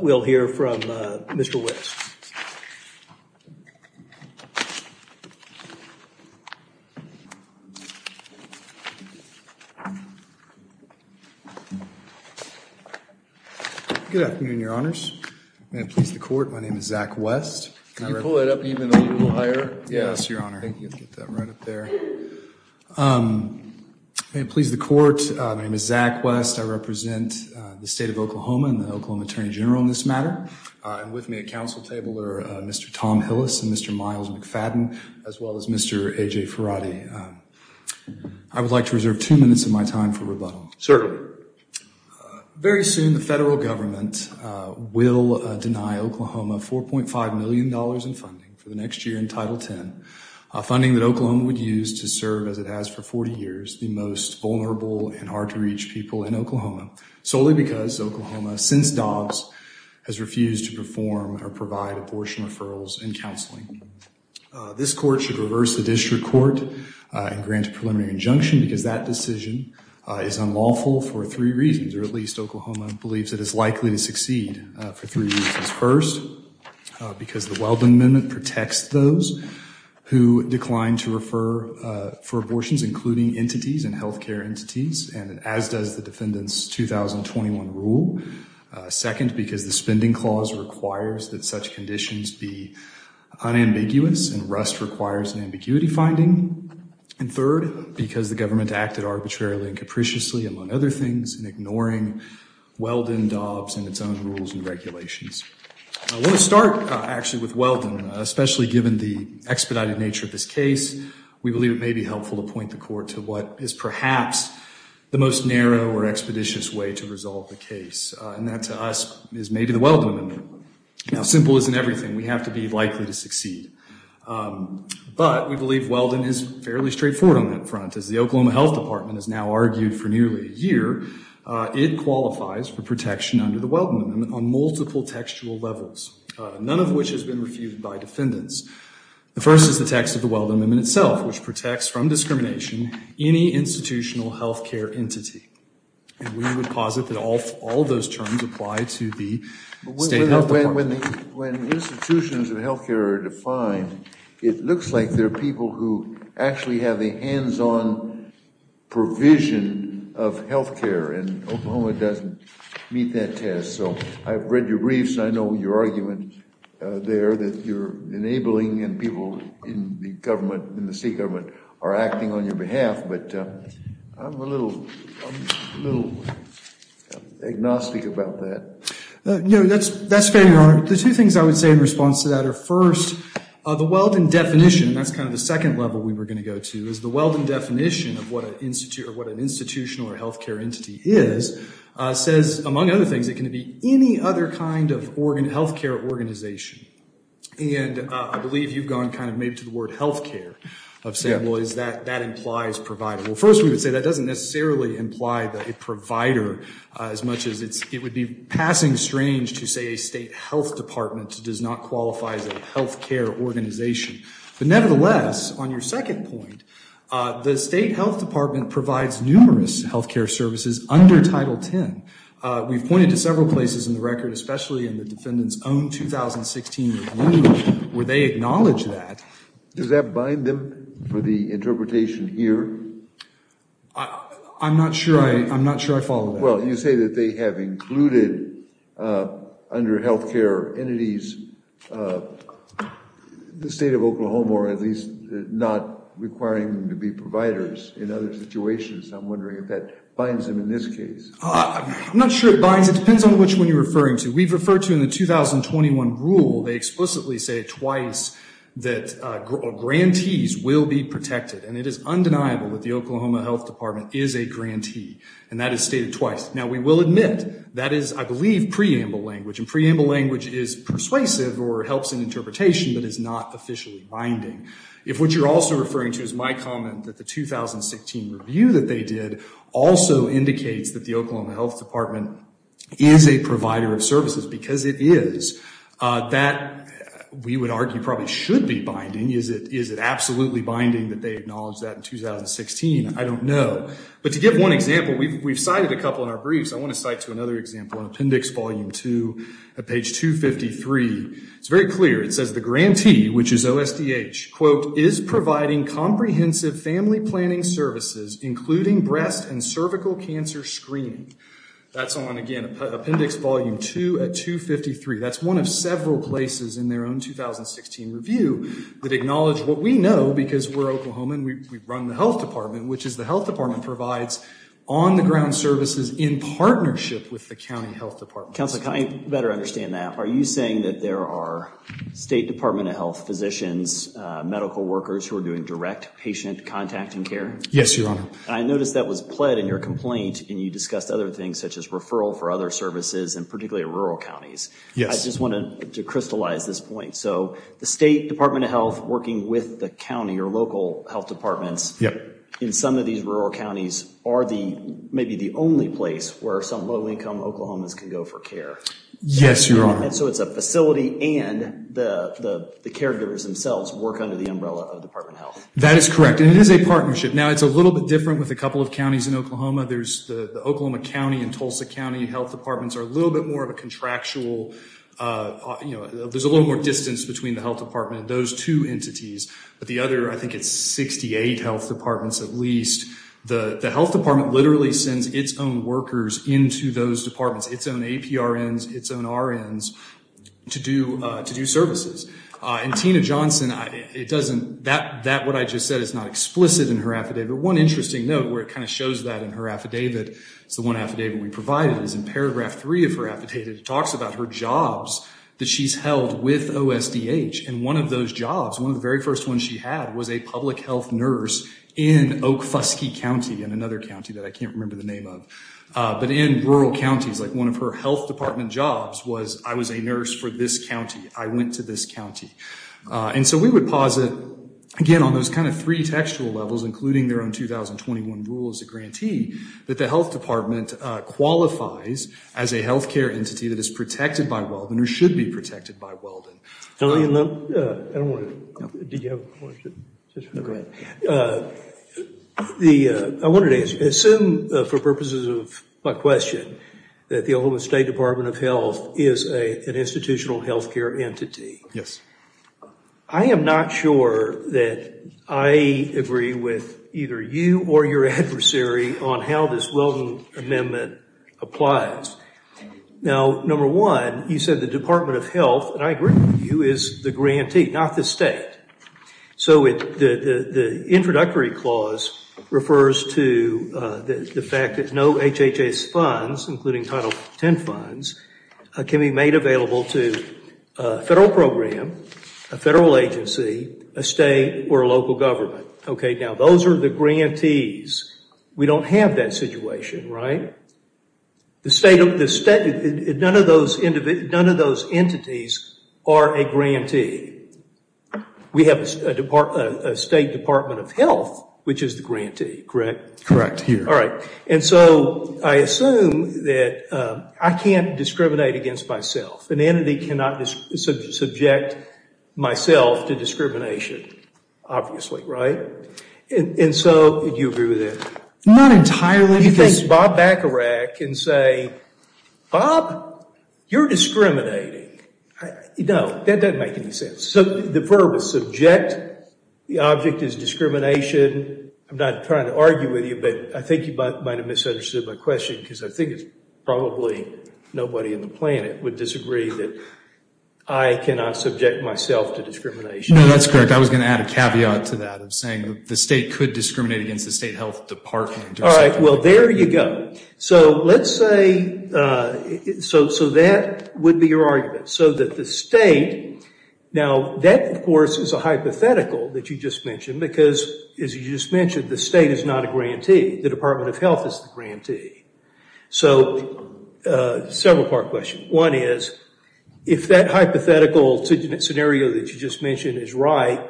We'll hear from Mr. West. Good afternoon, your honors. May it please the court, my name is Zach West. Can you pull it up even a little higher? Yes, your honor. Thank you. May it please the court, my name is Zach West. I represent the state of Oklahoma and the Oklahoma Attorney General in this matter. And with me at council table are Mr. Tom Hillis and Mr. Miles McFadden, as well as Mr. A.J. Ferrati. I would like to reserve two minutes of my time for rebuttal. Certainly. Very soon the federal government will deny Oklahoma $4.5 million in funding for the next year in Title X, funding that Oklahoma would use to serve, as it has for 40 years, the most vulnerable and hard to reach people in Oklahoma. Solely because Oklahoma, since Dobbs, has refused to perform or provide abortion referrals and counseling. This court should reverse the district court and grant a preliminary injunction because that decision is unlawful for three reasons, or at least Oklahoma believes it is likely to succeed for three reasons. First, because the Weldon Amendment protects those who decline to refer for abortions, including entities and health care entities, and as does the defendant's 2021 rule. Second, because the spending clause requires that such conditions be unambiguous and rust requires an ambiguity finding. And third, because the government acted arbitrarily and capriciously, among other things, in ignoring Weldon, Dobbs, and its own rules and regulations. I want to start actually with Weldon, especially given the expedited nature of this case. We believe it may be helpful to point the court to what is perhaps the most narrow or expeditious way to resolve the case, and that to us is maybe the Weldon Amendment. Now, simple isn't everything. We have to be likely to succeed. But we believe Weldon is fairly straightforward on that front. As the Oklahoma Health Department has now argued for nearly a year, it qualifies for protection under the Weldon Amendment on multiple textual levels, none of which has been refuted by defendants. The first is the text of the Weldon Amendment itself, which protects from discrimination any institutional health care entity. And we would posit that all of those terms apply to the state health department. When institutions of health care are defined, it looks like they're people who actually have the hands-on provision of health care, and Oklahoma doesn't meet that test. So I've read your briefs, and I know your argument there that you're enabling and people in the state government are acting on your behalf, but I'm a little agnostic about that. No, that's fair, Your Honor. The two things I would say in response to that are, first, the Weldon definition, and that's kind of the second level we were going to go to, is the Weldon definition of what an institutional or health care entity is says, among other things, it can be any other kind of health care organization. And I believe you've gone kind of maybe to the word health care of saying, well, that implies provider. Well, first we would say that doesn't necessarily imply a provider as much as it would be passing strange to say a state health department does not qualify as a health care organization. But nevertheless, on your second point, the state health department provides numerous health care services under Title X. We've pointed to several places in the record, especially in the defendant's own 2016 review, where they acknowledge that. Does that bind them for the interpretation here? I'm not sure. I'm not sure I follow. Well, you say that they have included under health care entities, the state of Oklahoma, or at least not requiring them to be providers in other situations. I'm wondering if that binds them in this case. I'm not sure it binds. It depends on which one you're referring to. We've referred to in the 2021 rule, they explicitly say twice that grantees will be protected. And it is undeniable that the Oklahoma Health Department is a grantee. And that is stated twice. Now, we will admit that is, I believe, preamble language. And preamble language is persuasive or helps in interpretation, but is not officially binding. If what you're also referring to is my comment that the 2016 review that they did also indicates that the Oklahoma Health Department is a provider of services, because it is, that we would argue probably should be binding. Is it absolutely binding that they acknowledge that in 2016? I don't know. But to give one example, we've cited a couple in our briefs. I want to cite to another example in Appendix Volume 2, page 253. It's very clear. It says the grantee, which is OSDH, quote, is providing comprehensive family planning services, including breast and cervical cancer screening. That's on, again, Appendix Volume 2 at 253. That's one of several places in their own 2016 review that acknowledge what we know, because we're Oklahoma and we run the Health Department, which is the Health Department provides on the ground services in partnership with the county health department. Counselor, can I better understand that? Are you saying that there are State Department of Health physicians, medical workers who are doing direct patient contact and care? Yes, Your Honor. I noticed that was pled in your complaint and you discussed other things such as referral for other services and particularly rural counties. Yes. I just wanted to crystallize this point. So the State Department of Health working with the county or local health departments in some of these rural counties are the, maybe the only place where some low-income Oklahomans can go for care. Yes, Your Honor. So it's a facility and the caregivers themselves work under the umbrella of the Department of Health. That is correct. And it is a partnership. Now, it's a little bit different with a couple of counties in Oklahoma. There's the Oklahoma County and Tulsa County health departments are a little bit more of a contractual, you know, there's a little more distance between the health department and those two entities. But the other, I think it's 68 health departments at least. The health department literally sends its own workers into those departments, its own APRNs, its own RNs to do services. And Tina Johnson, it doesn't, that what I just said is not explicit in her affidavit. One interesting note where it kind of shows that in her affidavit, it's the one affidavit we provided is in paragraph three of her affidavit, it talks about her jobs that she's held with OSDH. And one of those jobs, one of the very first ones she had was a public health nurse in Oak Fuskie County, in another county that I can't remember the name of, but in rural counties, like one of her health department jobs was I was a nurse for this county. I went to this county. And so we would posit, again, on those kind of three textual levels, including their own 2021 rule as a grantee, that the health department qualifies as a health care entity that is protected by Weldon or should be protected by Weldon. I don't want to, did you have a question? No, go ahead. The, I wanted to ask you, assume for purposes of my question, that the Oklahoma State Department of Health is an institutional health care entity. Yes. I am not sure that I agree with either you or your adversary on how this Weldon Amendment applies. Now, number one, you said the Department of Health, and I agree with you, is the grantee, not the state. So the introductory clause refers to the fact that no HHS funds, including Title 10 funds, can be made available to a federal program, a federal agency, a state or a local government. Okay, now those are the grantees. We don't have that situation, right? The state, none of those entities are a grantee. We have a State Department of Health, which is the grantee, correct? Correct. All right. And so I assume that I can't discriminate against myself. An entity cannot subject myself to discrimination, obviously, right? And so, do you agree with that? Not entirely. Do you think Bob Bacharach can say, Bob, you're discriminating. No, that doesn't make any sense. So the verb is subject, the object is discrimination. I'm not trying to argue with you, but I think you might have misunderstood my question, because I think it's probably nobody on the planet would disagree that I cannot subject myself to discrimination. No, that's correct. I was going to add a caveat to that of saying the state could discriminate against the State Health Department. All right. Well, there you go. So let's say, so that would be your argument. So that the state, now that, of course, is a hypothetical that you just mentioned, because as you just mentioned, the state is not a grantee. The Department of Health is the grantee. So several part questions. One is, if that hypothetical scenario that you just mentioned is right,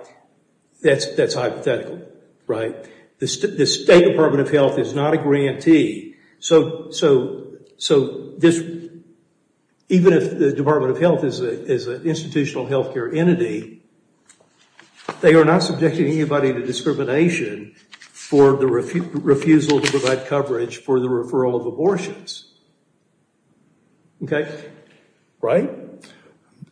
that's hypothetical, right? The State Department of Health is not a grantee. So even if the Department of Health is an institutional health care entity, they are not subjecting anybody to discrimination for the refusal to provide coverage for the referral of abortions. Okay. Right?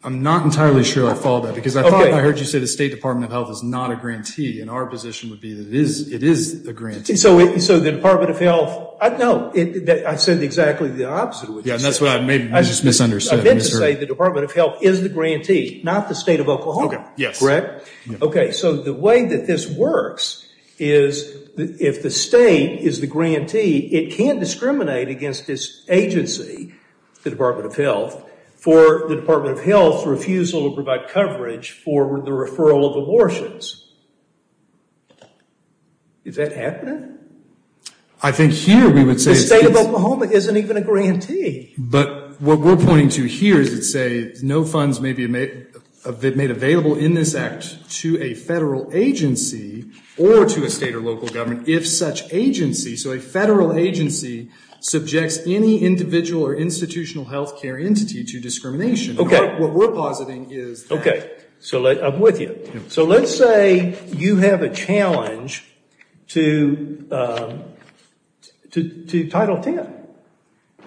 I'm not entirely sure I followed that, because I thought I heard you say the State Department of Health is not a grantee, and our position would be that it is a grantee. So the Department of Health, no, I said exactly the opposite of what you said. Yeah, and that's what I just misunderstood. I meant to say the Department of Health is the grantee, not the State of Oklahoma. Okay, yes. Correct? Okay, so the way that this works is if the state is the grantee, it can't discriminate against this agency, the Department of Health, for the Department of Health's refusal to provide coverage for the referral of abortions. Is that happening? I think here we would say it's... The State of Oklahoma isn't even a grantee. But what we're pointing to here is to say no funds may be made available in this act to a federal agency or to a state or local government if such agency, so a federal agency, subjects any individual or institutional health care entity to discrimination. Okay. What we're positing is that. Okay, so I'm with you. So let's say you have a challenge to Title X.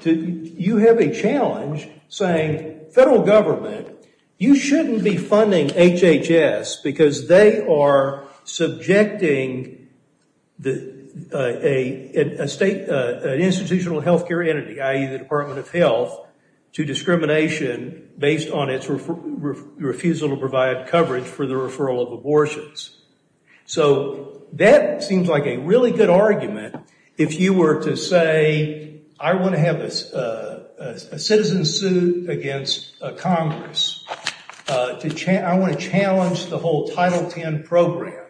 You have a challenge saying federal government, you shouldn't be funding HHS because they are subjecting an institutional health care entity, i.e., the Department of Health, to discrimination based on its refusal to provide coverage for the referral of abortions. So that seems like a really good argument if you were to say, I want to have a citizen sued against Congress. I want to challenge the whole Title X program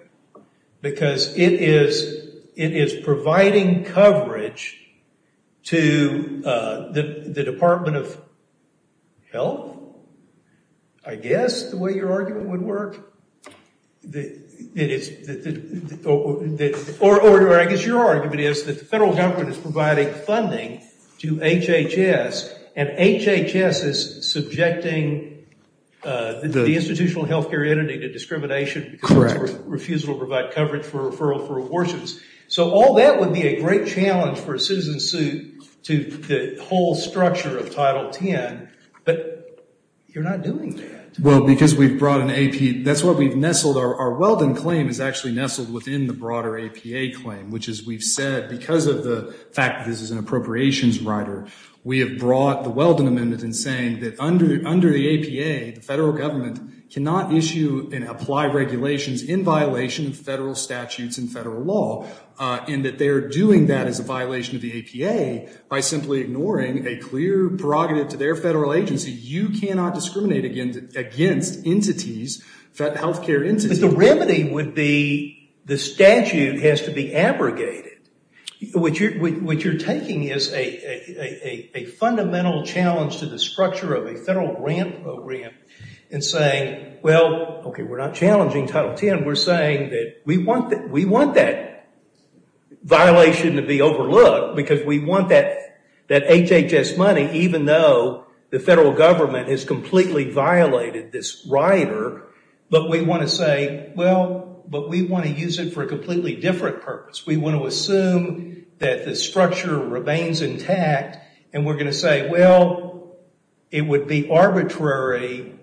because it is providing coverage to the Department of Health, I guess the way your argument would work. Or I guess your argument is that the federal government is providing funding to HHS and HHS is subjecting the institutional health care entity to discrimination. Correct. Refusal to provide coverage for referral for abortions. So all that would be a great challenge for a citizen sued to the whole structure of Title X. But you're not doing that. Well, because we've brought an AP, that's what we've nestled, our Weldon claim is actually nestled within the broader APA claim, which is we've said because of the fact that this is an appropriations rider, we have brought the Weldon Amendment in saying that under the APA, the federal government cannot issue and apply regulations in violation of federal statutes and federal law, and that they're doing that as a violation of the APA by simply ignoring a clear prerogative to their federal agency. You cannot discriminate against entities, health care entities. But the remedy would be the statute has to be abrogated. What you're taking is a fundamental challenge to the structure of a federal grant program and saying, well, okay, we're not challenging Title X. Again, we're saying that we want that violation to be overlooked because we want that HHS money, even though the federal government has completely violated this rider, but we want to say, well, but we want to use it for a completely different purpose. We want to assume that the structure remains intact, and we're going to say, well, it would be arbitrary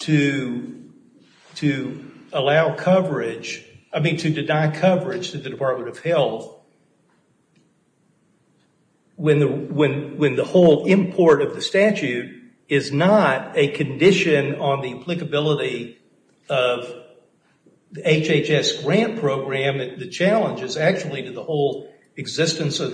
to allow coverage, I mean to deny coverage to the Department of Health, when the whole import of the statute is not a condition on the applicability of the HHS grant program. The challenge is actually to the whole existence of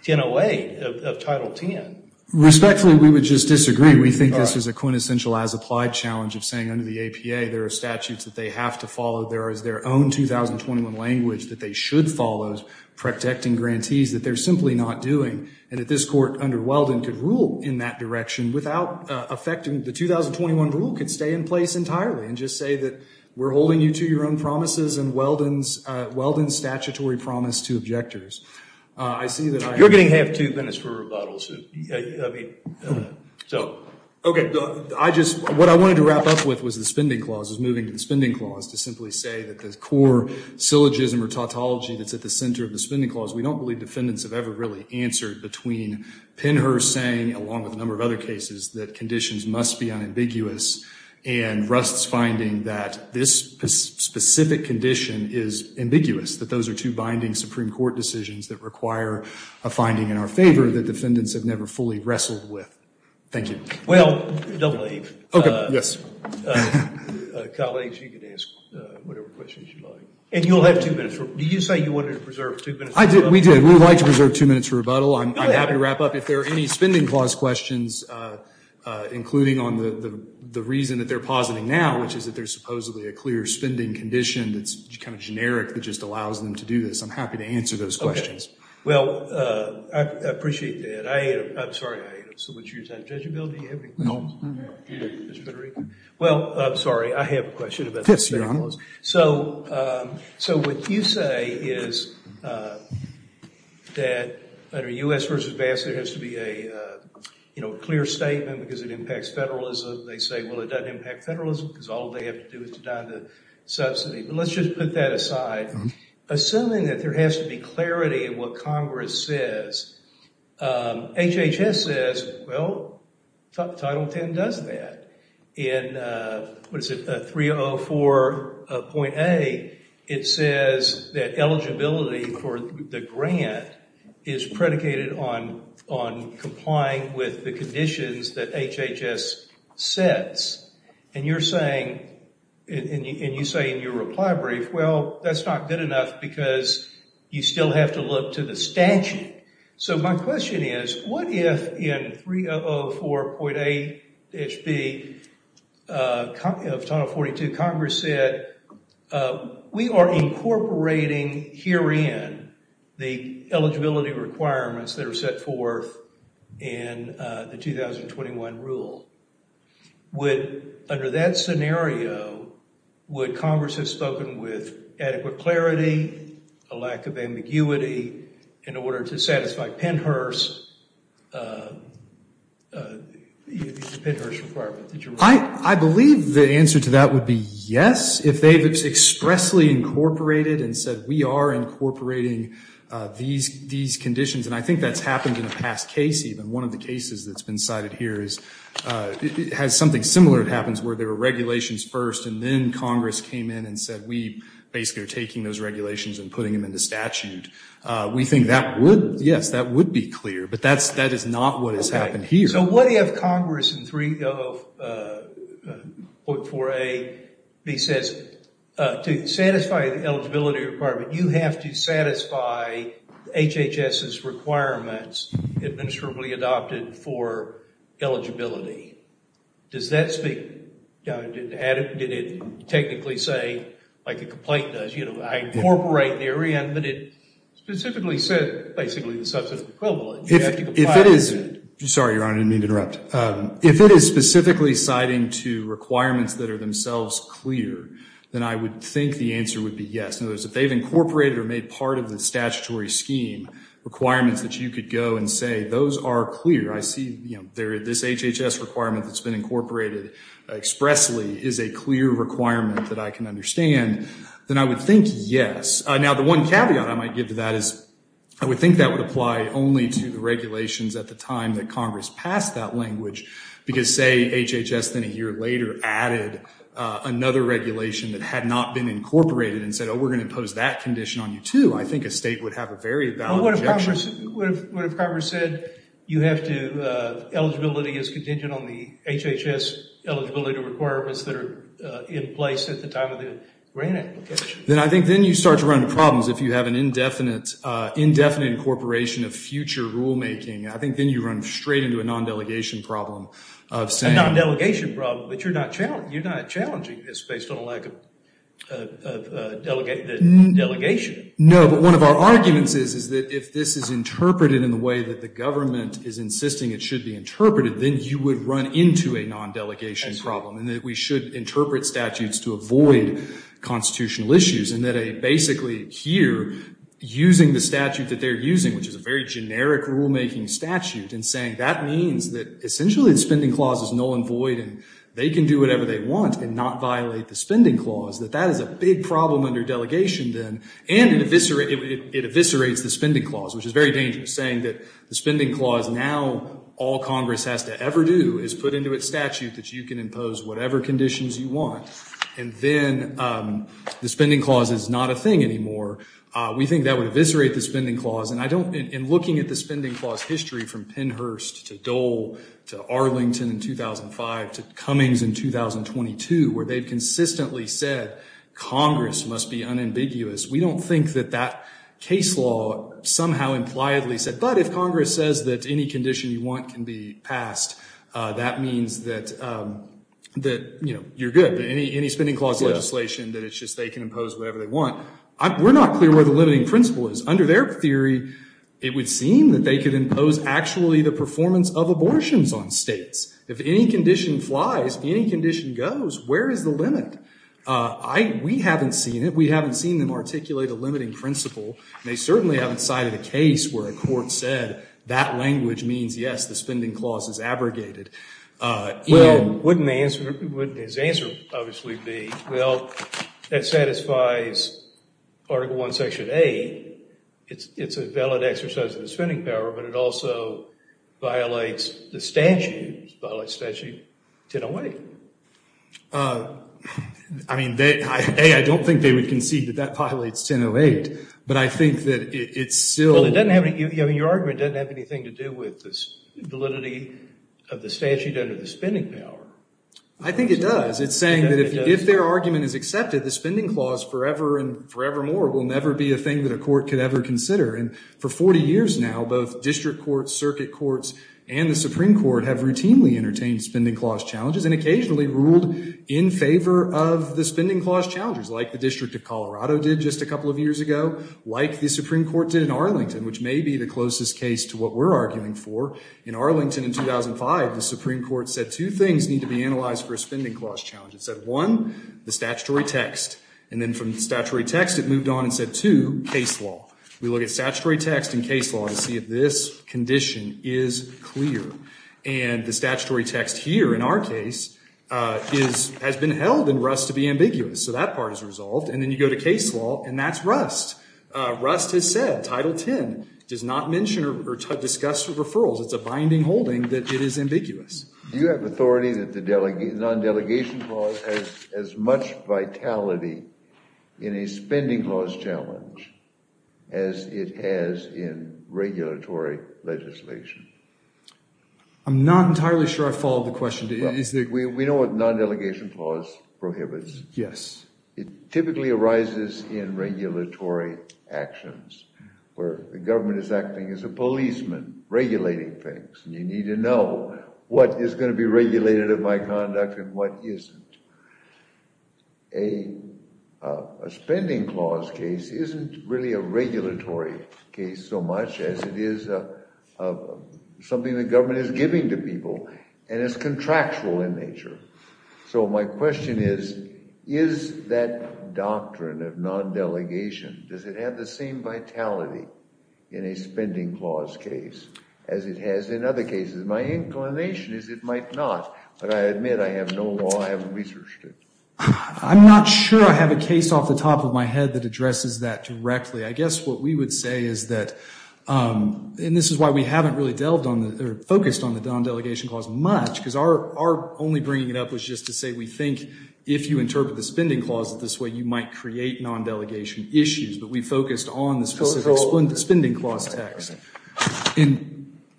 Title X. Respectfully, we would just disagree. We think this is a quintessential as-applied challenge of saying under the APA, there are statutes that they have to follow, there is their own 2021 language that they should follow, protecting grantees that they're simply not doing, and that this Court under Weldon could rule in that direction without affecting the 2021 rule, could stay in place entirely and just say that we're holding you to your own promises and Weldon's statutory promise to objectors. You're getting half two minutes for rebuttals. What I wanted to wrap up with was the spending clause, is moving to the spending clause to simply say that the core syllogism or tautology that's at the center of the spending clause, we don't believe defendants have ever really answered between Penhurst saying, along with a number of other cases, that conditions must be unambiguous, and Rust's finding that this specific condition is ambiguous, that those are two binding Supreme Court decisions that require a finding in our favor that defendants have never fully wrestled with. Thank you. Well, don't leave. Okay, yes. Colleagues, you can ask whatever questions you'd like. And you'll have two minutes. Did you say you wanted to preserve two minutes for rebuttal? We did. We would like to preserve two minutes for rebuttal. I'm happy to wrap up. If there are any spending clause questions, including on the reason that they're positing now, which is that there's supposedly a clear spending condition that's kind of generic that just allows them to do this, I'm happy to answer those questions. Okay. Well, I appreciate that. I'm sorry. So what's your time? Judge Abell, do you have any questions? No. Mr. Federico? Well, I'm sorry. I have a question about the spending clause. Yes, Your Honor. So what you say is that under U.S. versus BASC, there has to be a clear statement because it impacts federalism. They say, well, it doesn't impact federalism because all they have to do is to die on the subsidy. But let's just put that aside. Assuming that there has to be clarity in what Congress says, HHS says, well, Title X does that. In, what is it, 304.A, it says that eligibility for the grant is predicated on complying with the conditions that HHS sets. And you're saying, and you say in your reply brief, well, that's not good enough because you still have to look to the statute. So my question is, what if in 304.A-HB of Title 42, Congress said, we are incorporating herein the eligibility requirements that are set forth in the 2021 rule. Would, under that scenario, would Congress have spoken with adequate clarity, a lack of ambiguity in order to satisfy Pennhurst, the Pennhurst requirement? I believe the answer to that would be yes. If they've expressly incorporated and said, we are incorporating these conditions. And I think that's happened in the past case, even. One of the cases that's been cited here is, has something similar. It happens where there were regulations first and then Congress came in and said, we basically are taking those regulations and putting them into statute. We think that would, yes, that would be clear. But that is not what has happened here. So what if Congress in 304.A-B says, to satisfy the eligibility requirement, you have to satisfy HHS's requirements administratively adopted for eligibility. Does that speak, did it technically say, like a complaint does, you know, I incorporate therein, but it specifically said basically the substantive equivalent. If it is, sorry, Your Honor, I didn't mean to interrupt. If it is specifically citing to requirements that are themselves clear, then I would think the answer would be yes. In other words, if they've incorporated or made part of the statutory scheme requirements that you could go and say, those are clear. I see, you know, this HHS requirement that's been incorporated expressly is a clear requirement that I can understand. Then I would think yes. Now the one caveat I might give to that is, I would think that would apply only to the regulations at the time that Congress passed that language. Because say HHS then a year later added another regulation that had not been incorporated and said, oh, we're going to impose that condition on you too. I think a state would have a very valid objection. What if Congress said you have to, eligibility is contingent on the HHS eligibility requirements that are in place at the time of the grant application? Then I think then you start to run into problems if you have an indefinite incorporation of future rulemaking. I think then you run straight into a non-delegation problem of saying. A non-delegation problem, but you're not challenging this based on a lack of delegation. No, but one of our arguments is, is that if this is interpreted in the way that the government is insisting it should be interpreted, then you would run into a non-delegation problem. And that we should interpret statutes to avoid constitutional issues. And that a basically here, using the statute that they're using, which is a very generic rulemaking statute, and saying that means that essentially the spending clause is null and void and they can do whatever they want and not violate the spending clause. That that is a big problem under delegation then. And it eviscerates the spending clause, which is very dangerous saying that the spending clause now all Congress has to ever do is put into its statute that you can impose whatever conditions you want. And then the spending clause is not a thing anymore. We think that would eviscerate the spending clause. And I don't, in looking at the spending clause history from Pennhurst to Dole to Arlington in 2005 to Cummings in 2022, where they've consistently said Congress must be unambiguous. We don't think that that case law somehow impliedly said, but if Congress says that any condition you want can be passed, that means that you're good. Any spending clause legislation that it's just they can impose whatever they want. We're not clear where the limiting principle is. Under their theory, it would seem that they could impose actually the performance of abortions on states. If any condition flies, any condition goes, where is the limit? I, we haven't seen it. We haven't seen them articulate a limiting principle and they certainly haven't cited a case where a court said that language means yes, the spending clause is abrogated. Well, wouldn't the answer, wouldn't his answer obviously be, well, that satisfies article one, section eight. It's, it's a valid exercise of the spending power, but it also violates the statute, violates statute 1008. I mean, A, I don't think they would concede that that violates 1008, but I think that it's still. Well, it doesn't have any, your argument doesn't have anything to do with the validity of the statute under the spending power. I think it does. It's saying that if their argument is accepted, the spending clause forever and forevermore will never be a thing that a court could ever consider. And for 40 years now, both district courts, circuit courts, and the Supreme court have routinely entertained spending clause challenges and occasionally ruled in favor of the spending clause challenges like the district of Colorado did just a couple of years ago, like the Supreme court did in Arlington, which may be the closest case to what we're arguing for. In Arlington in 2005, the Supreme court said two things need to be analyzed for a spending clause challenge. It said one, the statutory text. And then from statutory text, it moved on and said to case law. We look at statutory text in case law to see if this condition is clear. And the statutory text here in our case is, has been held in rust to be ambiguous. So that part is resolved. And then you go to case law and that's rust. Rust has said title 10 does not mention or discuss referrals. It's a binding holding that it is ambiguous. You have authority that the delegate non-delegation clause has as much vitality in a spending clause challenge as it has in regulatory legislation. I'm not entirely sure I followed the question. We know what non-delegation clause prohibits. Yes. It typically arises in regulatory actions where the government is acting as a policeman regulating things. And you need to know what is going to be regulated of my conduct and what isn't. A spending clause case isn't really a regulatory case so much as it is something the government is giving to people and it's contractual in nature. So my question is, is that doctrine of non-delegation, does it have the same vitality in a spending clause case as it has in other cases? My inclination is it might not, but I admit I have no law. I haven't researched it. I'm not sure I have a case off the top of my head that addresses that directly. I guess what we would say is that, and this is why we haven't really focused on the non-delegation clause much because our only bringing it up was just to say, we think if you interpret the spending clauses this way, you might create non-delegation issues, but we focused on the specific spending clause text. I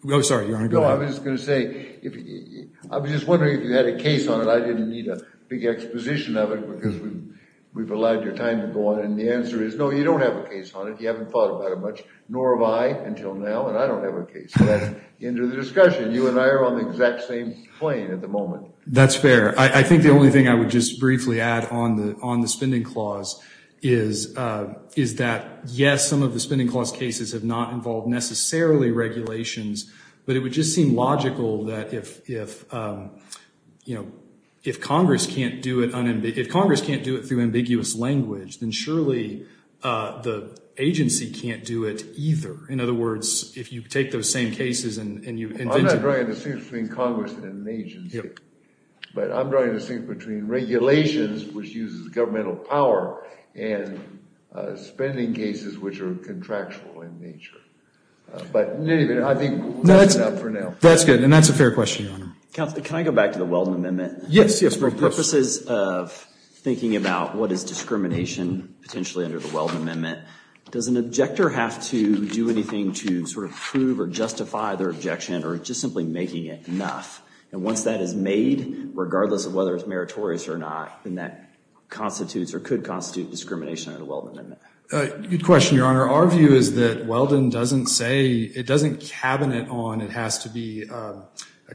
was just going to say, I was just wondering if you had a case on it. I didn't need a big exposition of it because we've allowed your time to go on. And the answer is no, you don't have a case on it. You haven't thought about it much, nor have I until now. And I don't have a case. So that's the end of the discussion. You and I are on the exact same plane at the moment. That's fair. I think the only thing I would just briefly add on the spending clause is that yes, some of the spending clause cases have not involved necessarily regulations, but it would just seem logical that if, you know, if Congress can't do it through ambiguous language, then surely the agency can't do it either. In other words, if you take those same cases and you invent them. I'm not drawing a distinction between Congress and an agency, but I'm drawing a distinction between regulations, which uses governmental power and spending cases, which are contractual in nature. But anyway, I think that's enough for now. That's good. And that's a fair question, Your Honor. Counselor, can I go back to the Weldon Amendment? Yes. For purposes of thinking about what is discrimination potentially under the Weldon Amendment, does an objector have to do anything to sort of prove or justify their objection or just simply making it enough? And once that is made, regardless of whether it's meritorious or not, then that constitutes or could constitute discrimination under the Weldon Amendment. Good question, Your Honor. Our view is that Weldon doesn't say, it doesn't cabinet on, it has to be a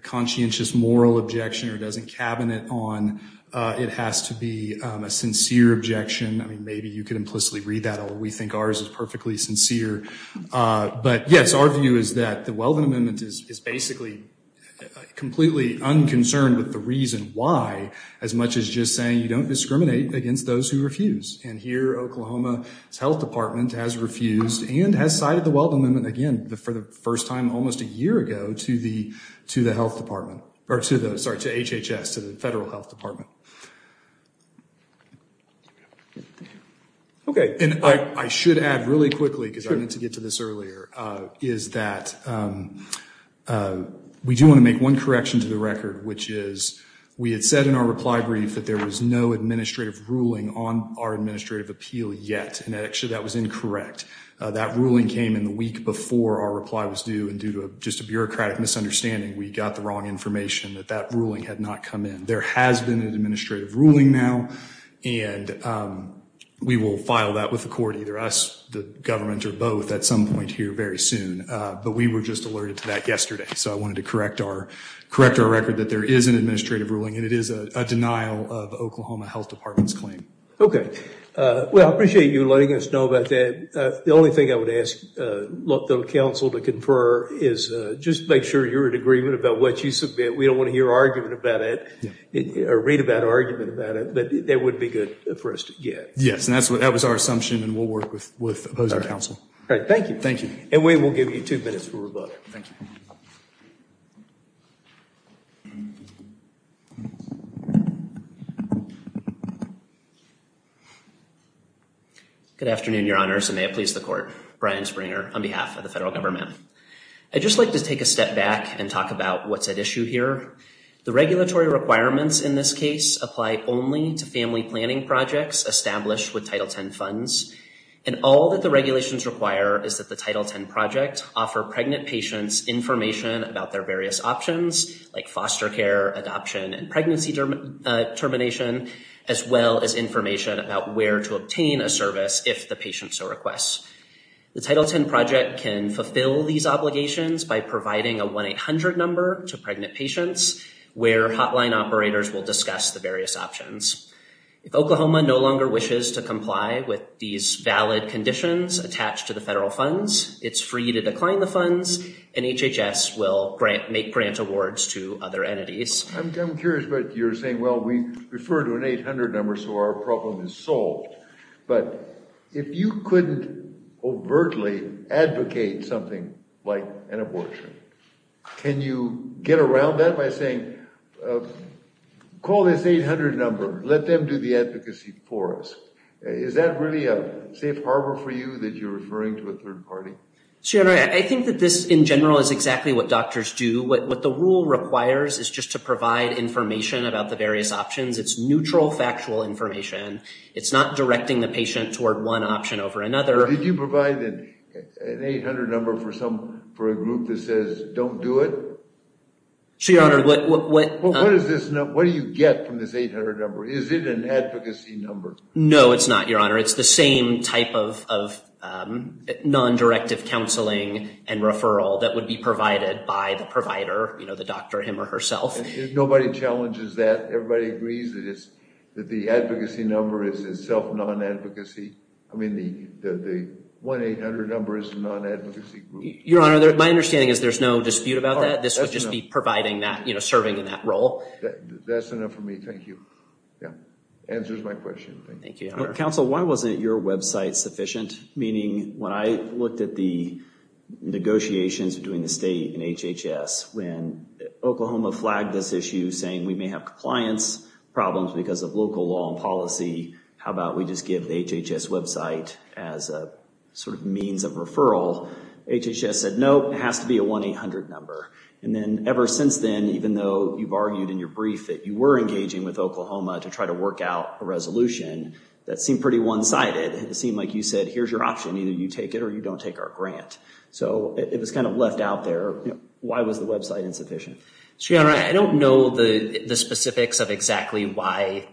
conscientious moral objection or doesn't cabinet on, it has to be a sincere objection. I mean, maybe you could implicitly read that, or we think ours is perfectly sincere. But yes, our view is that the Weldon Amendment is basically completely unconcerned with the reason why, as much as just saying you don't discriminate against those who refuse. And here, Oklahoma's health department has refused and has cited the Weldon Amendment again, for the first time, almost a year ago to the health department or to the, sorry, to HHS, to the federal health department. Okay. And I should add really quickly, because I need to get to this earlier, is that we do want to make one correction to the record, which is we had said in our reply brief that there was no administrative ruling on our administrative appeal yet. And actually that was incorrect. That ruling came in the week before our reply was due and due to just a bureaucratic misunderstanding, we got the wrong information that that ruling had not come in. There has been an administrative ruling now, and we will file that with the court, either us, the government or both at some point here very soon. But we were just alerted to that yesterday. So I wanted to correct our record that there is an administrative ruling and it is a denial of Oklahoma health department's claim. Okay. Well, I appreciate you letting us know about that. The only thing I would ask the council to confer is just make sure you're in agreement about what you submit. We don't want to hear argument about it or read about argument about it, but that wouldn't be good for us to get. Yes. And that was our assumption and we'll work with opposing counsel. All right. Thank you. Thank you. And we will give you two minutes for rebuttal. Thank you. Good afternoon, your honors. And may it please the court. Brian Springer on behalf of the federal government. I'd just like to take a step back and talk about what's at issue here. The regulatory requirements in this case apply only to family planning projects established with title 10 funds. And all that the regulations require is that the title 10 project offer pregnant patients information about their various options like foster care, adoption, and pregnancy termination, as well as information about where to obtain a service if the patient so requests. The title 10 project can fulfill these obligations by providing a 1-800 number to pregnant patients where hotline operators will discuss the various options. If Oklahoma no longer wishes to comply with these valid conditions attached to the federal funds, it's free to decline the funds, and HHS will grant, make grant awards to other entities. I'm curious, but you're saying, well, we refer to an 800 number, so our problem is solved. But if you couldn't overtly advocate something like an abortion, can you get around that by saying, call this 800 number, let them do the advocacy for us? Is that really a safe harbor for you that you're referring to a third party? I think that this, in general, is exactly what doctors do. What the rule requires is just to provide information about the various options. It's neutral factual information. It's not directing the patient toward one option over another. Did you provide an 800 number for a group that says don't do it? What do you get from this 800 number? Is it an advocacy number? No, it's not, Your Honor. It's the same type of non-directive counseling and referral that would be provided by the provider, the doctor, him or herself. Nobody challenges that. Everybody agrees that the advocacy number is itself non-advocacy. I mean, the 1-800 number is a non-advocacy group. Your Honor, my understanding is there's no dispute about that. This would just be providing that, serving in that role. That's enough for me. Thank you. Yeah. Answers my question. Thank you, Your Honor. Counsel, why wasn't your website sufficient? Meaning, when I looked at the negotiations between the state and HHS, when Oklahoma flagged this issue saying we may have compliance problems because of local law and policy, how about we just give the HHS website as a sort of means of referral, HHS said, nope, it has to be a 1-800 number. And then ever since then, even though you've argued in your brief that you were engaging with Oklahoma to try to work out a resolution, that seemed pretty one-sided. It seemed like you said, here's your option, either you take it or you don't take our grant. So it was kind of left out there. Why was the website insufficient? Your Honor, I don't know the specifics of exactly why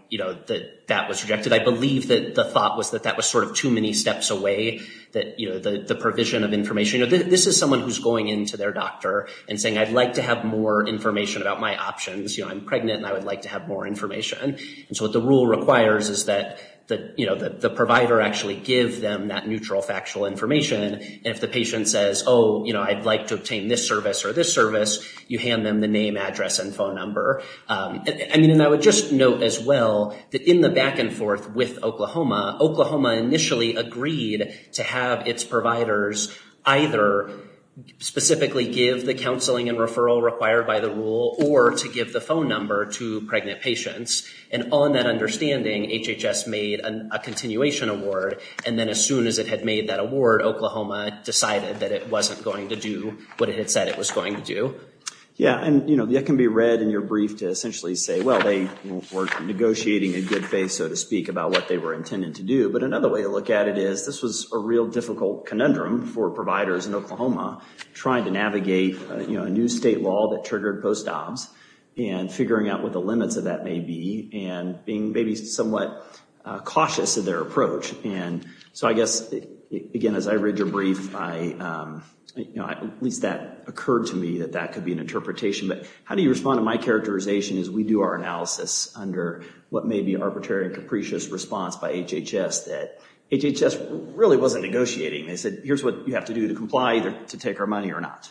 that was rejected. I believe that the thought was that that was sort of too many steps away, the provision of information. This is someone who's going into their doctor and saying, I'd like to have more information about my options. I'm pregnant and I would like to have more information. And so what the rule requires is that the provider actually give them that neutral factual information, and if the patient says, oh, I'd like to obtain this service or this service, you hand them the name, address, and phone number. And I would just note as well that in the back and forth with Oklahoma, Oklahoma initially agreed to have its providers either specifically give the phone number to pregnant patients. And on that understanding, HHS made a continuation award, and then as soon as it had made that award, Oklahoma decided that it wasn't going to do what it had said it was going to do. Yeah, and, you know, that can be read in your brief to essentially say, well, they were negotiating in good faith, so to speak, about what they were intending to do. But another way to look at it is this was a real difficult conundrum for providers in Oklahoma trying to navigate, you know, a new state law that triggered post-obs and figuring out what the limits of that may be and being maybe somewhat cautious of their approach. And so I guess, again, as I read your brief, at least that occurred to me that that could be an interpretation. But how do you respond to my characterization as we do our analysis under what may be arbitrary and capricious response by HHS that HHS really wasn't negotiating? They said, here's what you have to do to comply, either to take our money or not.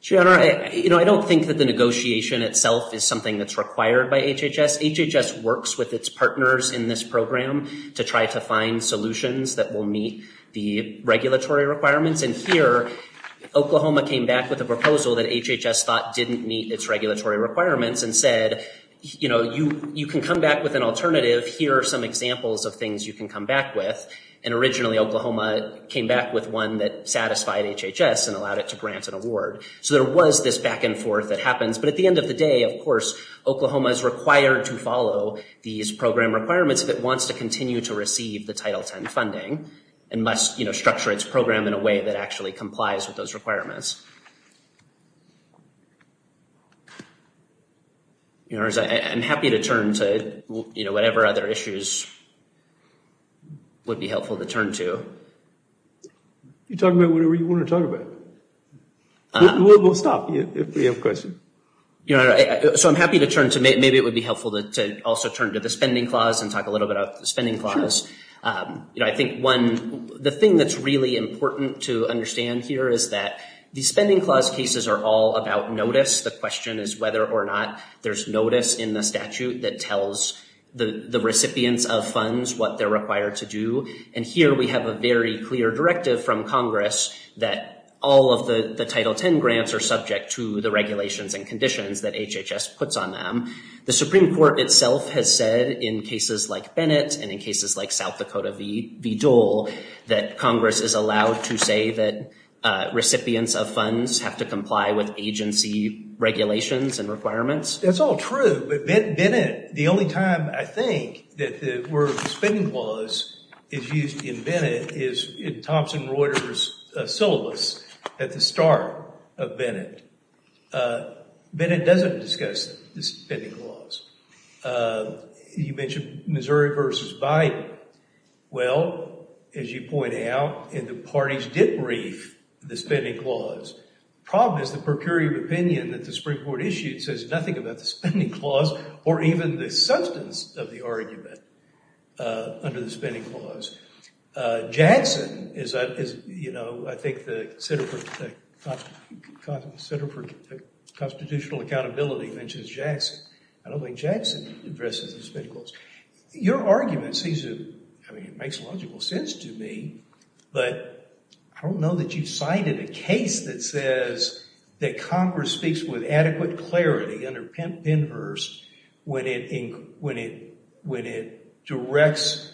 Gianna, you know, I don't think that the negotiation itself is something that's required by HHS. HHS works with its partners in this program to try to find solutions that will meet the regulatory requirements. And here, Oklahoma came back with a proposal that HHS thought didn't meet its regulatory requirements and said, you know, you can come back with an alternative. Here are some examples of things you can come back with. And originally, Oklahoma came back with one that satisfied HHS and allowed it to grant an award. So there was this back and forth that happens. But at the end of the day, of course, Oklahoma is required to follow these program requirements if it wants to continue to receive the Title X funding and must, you know, structure its program in a way that actually complies with those requirements. I'm happy to turn to, you know, whatever other issues would be helpful to turn to. You talk about whatever you want to talk about. We'll stop if you have a question. So I'm happy to turn to maybe it would be helpful to also turn to the spending clause and talk a little bit about the spending clause. You know, I think one, the thing that's really important to understand here is that the spending clause cases are all about notice. The question is whether or not there's notice in the statute that tells the recipients of funds what they're required to do. And here we have a very clear directive from Congress that all of the Title X grants are subject to the regulations and conditions that HHS puts on them. The Supreme Court itself has said in cases like Bennett and in cases like South Dakota v. Dole, that Congress is allowed to say that recipients of funds have to comply with agency regulations and requirements. That's all true. But Bennett, the only time I think that the word spending clause is used in Bennett is in Thompson Reuters' syllabus at the start of Bennett. Bennett doesn't discuss the spending clause. You mentioned Missouri v. Biden. Well, as you point out, the parties did brief the spending clause. The problem is the per curia of opinion that the Supreme Court issued says there's nothing about the spending clause or even the substance of the argument under the spending clause. Jackson is, you know, I think the Center for Constitutional Accountability mentions Jackson. I don't think Jackson addresses the spending clause. Your argument seems to, I mean, it makes logical sense to me, but I don't know that you've cited a case that says that Congress speaks with adequate clarity under Pennhurst when it directs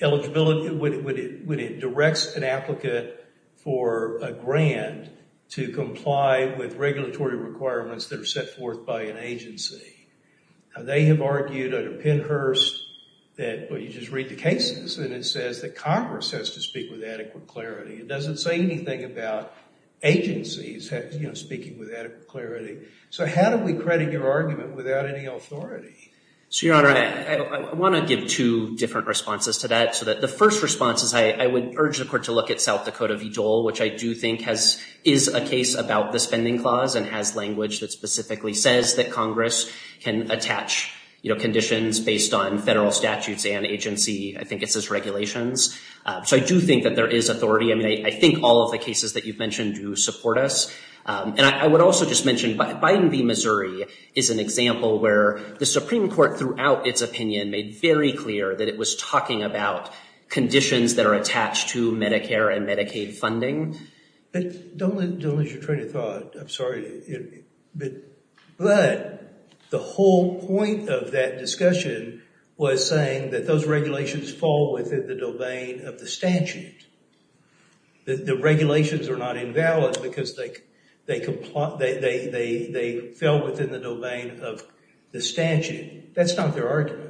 eligibility, when it directs an applicant for a grant to comply with regulatory requirements that are set forth by an agency. They have argued under Pennhurst that, well, you just read the cases, and it says that Congress has to speak with adequate clarity. It doesn't say anything about agencies speaking with adequate clarity. So how do we credit your argument without any authority? So, Your Honor, I want to give two different responses to that. So the first response is I would urge the Court to look at South Dakota v. Dole, which I do think is a case about the spending clause and has language that specifically says that Congress can attach conditions based on federal statutes and agency, I think it says regulations. So I do think that there is authority. I mean, I think all of the cases that you've mentioned do support us. And I would also just mention Biden v. Missouri is an example where the Supreme Court, throughout its opinion, made very clear that it was talking about conditions that are attached to Medicare and Medicaid funding. Don't lose your train of thought. I'm sorry. But the whole point of that discussion was saying that those regulations fall within the domain of the statute. The regulations are not invalid because they fell within the domain of the statute. That's not their argument.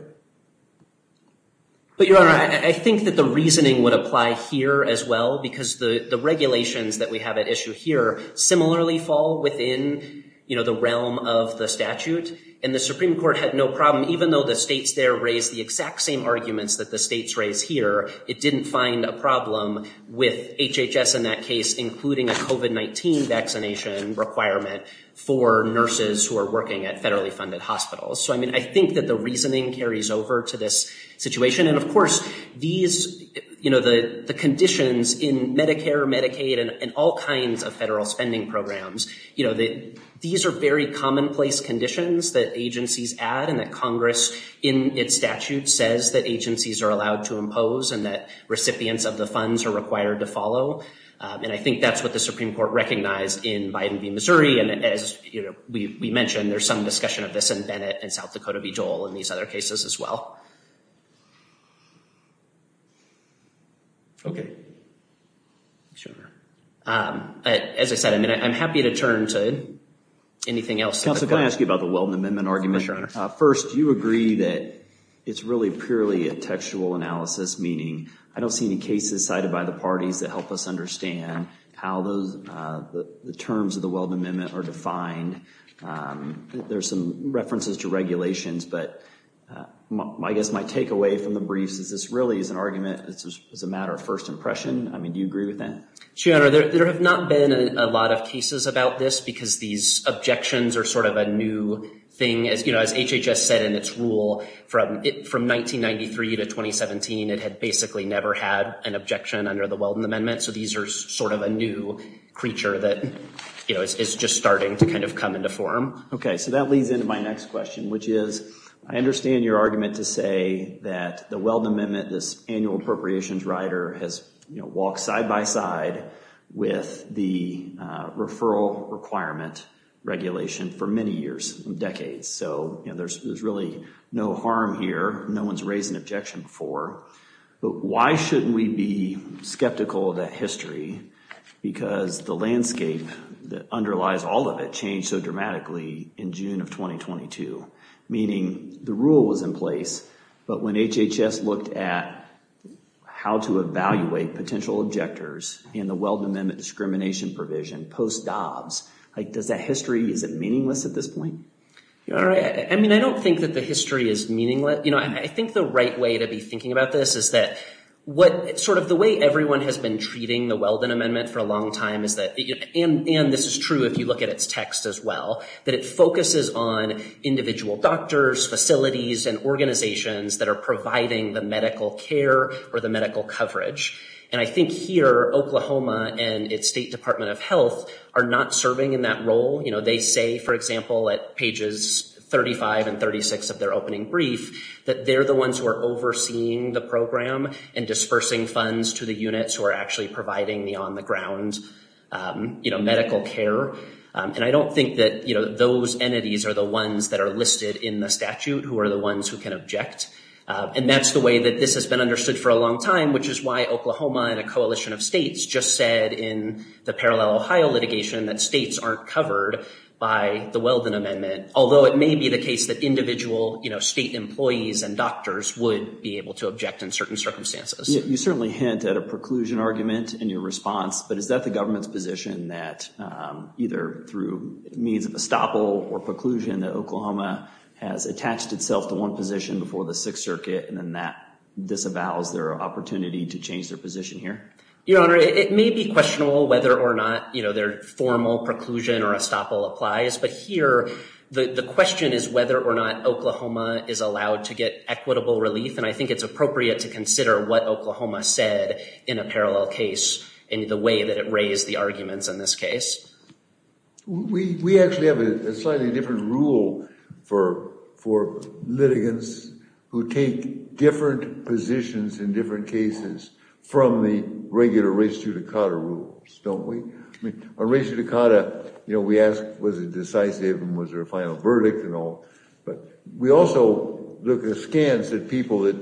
But, Your Honor, I think that the reasoning would apply here as well, because the regulations that we have at issue here similarly fall within, you know, the realm of the statute. And the Supreme Court had no problem, even though the states there raised the exact same arguments that the states raised here, it didn't find a problem with HHS in that case, including a COVID-19 vaccination requirement for nurses who are working at federally funded hospitals. So, I mean, I think that the reasoning carries over to this situation. And, of course, these, you know, the conditions in Medicare, Medicaid, and all kinds of federal spending programs, you know, these are very commonplace conditions that agencies add and that Congress in its statute says that agencies are allowed to impose and that recipients of the funds are required to follow. And I think that's what the Supreme Court recognized in Biden v. Missouri. And as we mentioned, there's some discussion of this in Bennett and South Dakota v. Joel and these other cases as well. Okay. Thanks, Your Honor. As I said, I'm happy to turn to anything else. Counsel, can I ask you about the Weldon Amendment argument? Sure, Your Honor. First, do you agree that it's really purely a textual analysis, meaning I don't see any cases cited by the parties that help us understand how the terms of the Weldon Amendment are defined? There's some references to regulations, but I guess my takeaway from the briefs is this really is an argument, it's a matter of first impression. I mean, do you agree with that? Sure, Your Honor. There have not been a lot of cases about this because these objections are sort of a new thing. As HHS said in its rule, from 1993 to 2017, it had basically never had an objection under the Weldon Amendment. So these are sort of a new creature that is just starting to kind of come into form. Okay. So that leads into my next question, which is I understand your argument to say that the Weldon Amendment, this annual appropriations rider has, you know, walked side by side with the referral requirement regulation for many years, decades. So, you know, there's really no harm here. No one's raised an objection before. But why shouldn't we be skeptical of that history? Because the landscape that underlies all of it changed so dramatically in June of 2022, meaning the rule was in place. But when HHS looked at how to evaluate potential objectors in the Weldon Amendment discrimination provision post-Dobbs, does that history, is it meaningless at this point? Your Honor, I mean, I don't think that the history is meaningless. You know, I think the right way to be thinking about this is that what sort of the way everyone has been treating the Weldon Amendment for a long time is that, and this is true if you look at its text as well, that it focuses on individual doctors, facilities, and organizations that are providing the medical care or the medical coverage. And I think here, Oklahoma and its State Department of Health are not serving in that role. You know, they say, for example, at pages 35 and 36 of their opening brief, that they're the ones who are overseeing the program and dispersing funds to the units who are actually providing the on-the-ground, you know, medical care. And I don't think that, you know, those entities are the ones that are listed in the statute who are the ones who can object. And that's the way that this has been understood for a long time, which is why Oklahoma and a coalition of states just said in the Parallel Ohio litigation that states aren't covered by the Weldon Amendment, although it may be the case that individual, you know, state employees and doctors would be able to object in certain circumstances. You certainly hint at a preclusion argument in your response, but is that the government's position that either through means of estoppel or preclusion that Oklahoma has attached itself to one position before the Sixth Circuit? And then that disavows their opportunity to change their position here? Your Honor, it may be questionable whether or not, you know, their formal preclusion or estoppel applies. But here the question is whether or not Oklahoma is allowed to get equitable relief. And I think it's appropriate to consider what Oklahoma said in a way that it raised the arguments in this case. We actually have a slightly different rule for litigants who take different positions in different cases from the regular res judicata rules, don't we? On res judicata, you know, we ask, was it decisive? And was there a final verdict and all? But we also look at scans that people that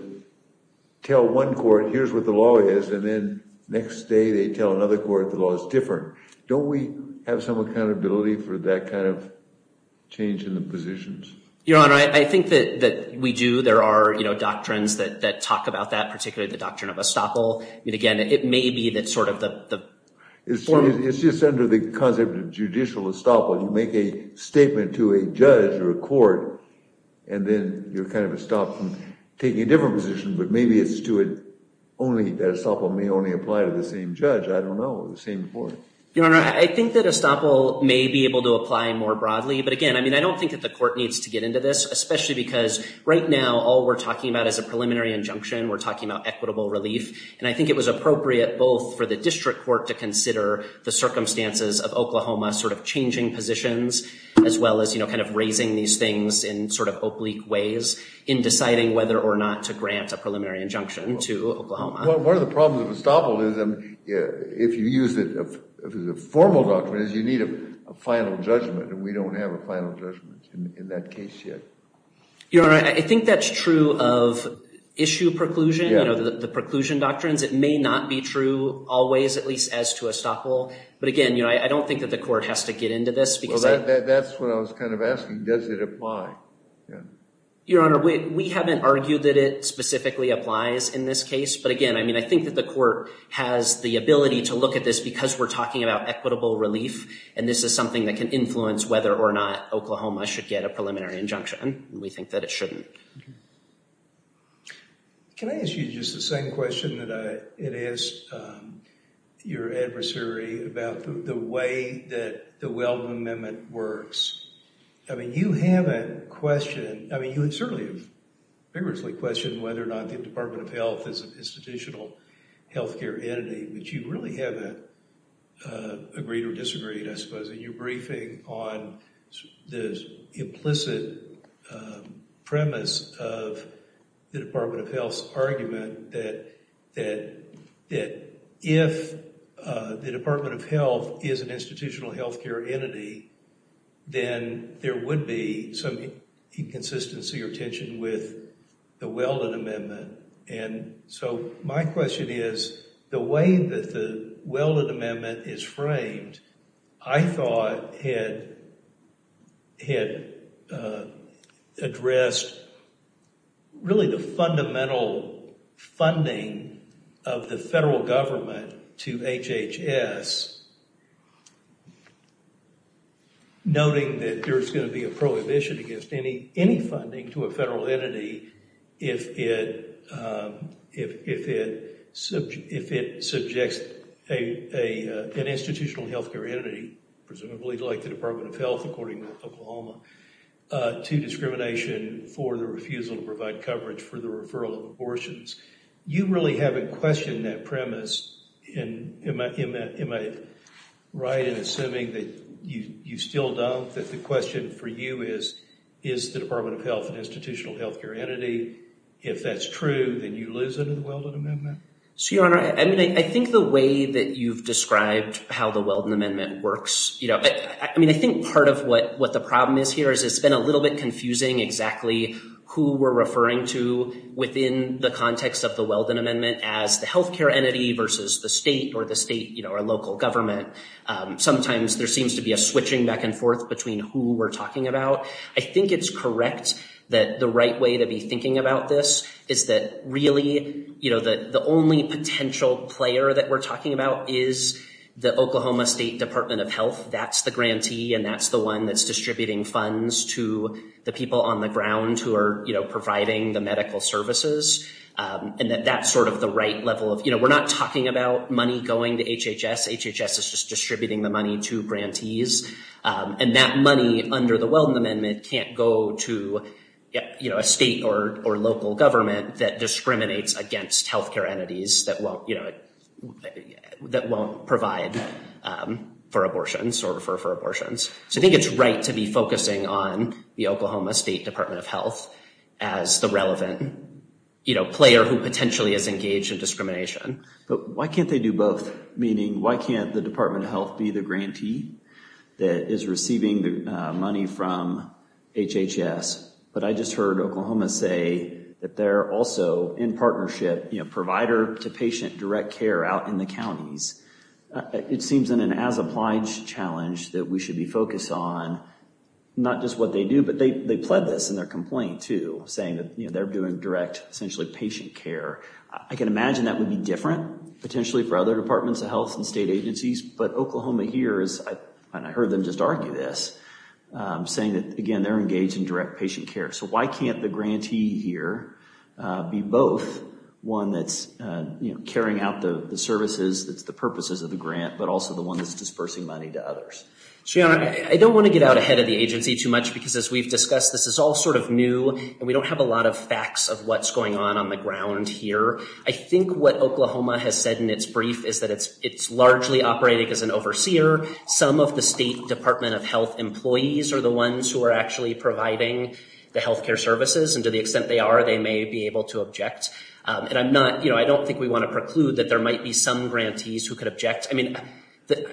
tell one court, here's what the law is, and then next day they tell another court the law is different. Don't we have some accountability for that kind of change in the positions? Your Honor, I think that we do. There are doctrines that talk about that, particularly the doctrine of estoppel. And again, it may be that sort of the form... It's just under the concept of judicial estoppel. You make a statement to a judge or a court, and then you're kind of stopped from taking a different position. But maybe it's to it only that estoppel may only apply to the same judge. I don't know. The same court. Your Honor, I think that estoppel may be able to apply more broadly. But again, I mean, I don't think that the court needs to get into this, especially because right now all we're talking about is a preliminary injunction. We're talking about equitable relief. And I think it was appropriate both for the district court to consider the circumstances of Oklahoma sort of changing positions as well as, you know, in deciding whether or not to grant a preliminary injunction to Oklahoma. One of the problems of estoppel is if you use it as a formal doctrine, you need a final judgment. And we don't have a final judgment in that case yet. Your Honor, I think that's true of issue preclusion, the preclusion doctrines. It may not be true always, at least as to estoppel. But again, I don't think that the court has to get into this. That's what I was kind of asking. Does it apply? Your Honor, we haven't argued that it specifically applies in this case. But again, I mean, I think that the court has the ability to look at this because we're talking about equitable relief. And this is something that can influence whether or not Oklahoma should get a preliminary injunction. And we think that it shouldn't. Can I ask you just the same question that I had asked your adversary about the way that the Wellman Amendment works? I mean, you haven't questioned, I mean, you have certainly vigorously questioned whether or not the Department of Health is an institutional health care entity, but you really haven't agreed or disagreed, I suppose, in your briefing on the implicit premise of the Department of Health's argument that if the Department of Health is an institutional health care entity, then there would be some inconsistency or tension with the Wellman Amendment. And so my question is, the way that the Wellman Amendment is framed, I thought had addressed really the fundamental funding of the federal government to HHS, noting that there's going to be a prohibition against any funding to a federal entity if it subjects an institutional health care entity, presumably like the Department of Health, according to Oklahoma, to discrimination for the refusal to provide coverage for the referral of abortions. You really haven't questioned that premise. Am I right in assuming that you still don't, that the question for you is, is the Department of Health an institutional health care entity? If that's true, then you lose under the Wellman Amendment? Your Honor, I mean, I think the way that you've described how the Wellman Amendment works, you know, I mean, I think part of what the problem is here is it's been a little bit as the health care entity versus the state or the state, you know, or local government. Sometimes there seems to be a switching back and forth between who we're talking about. I think it's correct that the right way to be thinking about this is that really, you know, the only potential player that we're talking about is the Oklahoma State Department of Health. That's the grantee and that's the one that's distributing funds to the people on the ground who are providing the medical services. And that that's sort of the right level of, you know, we're not talking about money going to HHS. HHS is just distributing the money to grantees. And that money under the Wellman Amendment can't go to, you know, a state or local government that discriminates against health care entities that won't, you know, that won't provide for abortions or for abortions. So I think it's right to be focusing on the Oklahoma State Department of Health, you know, player who potentially is engaged in discrimination. But why can't they do both? Meaning, why can't the Department of Health be the grantee that is receiving the money from HHS? But I just heard Oklahoma say that they're also in partnership, you know, provider to patient direct care out in the counties. It seems in an as applied challenge that we should be focused on not just they pled this in their complaint to saying that, you know, they're doing direct essentially patient care. I can imagine that would be different potentially for other departments of health and state agencies, but Oklahoma here is, and I heard them just argue this saying that, again, they're engaged in direct patient care. So why can't the grantee here be both one that's, you know, carrying out the services that's the purposes of the grant, but also the one that's dispersing money to others? So, you know, I don't want to get out ahead of the agency too much because as we've discussed, this is all sort of new and we don't have a lot of facts of what's going on on the ground here. I think what Oklahoma has said in its brief is that it's, it's largely operating as an overseer. Some of the state Department of Health employees are the ones who are actually providing the healthcare services and to the extent they are, they may be able to object. And I'm not, you know, I don't think we want to preclude that there might be some grantees who could object. I mean,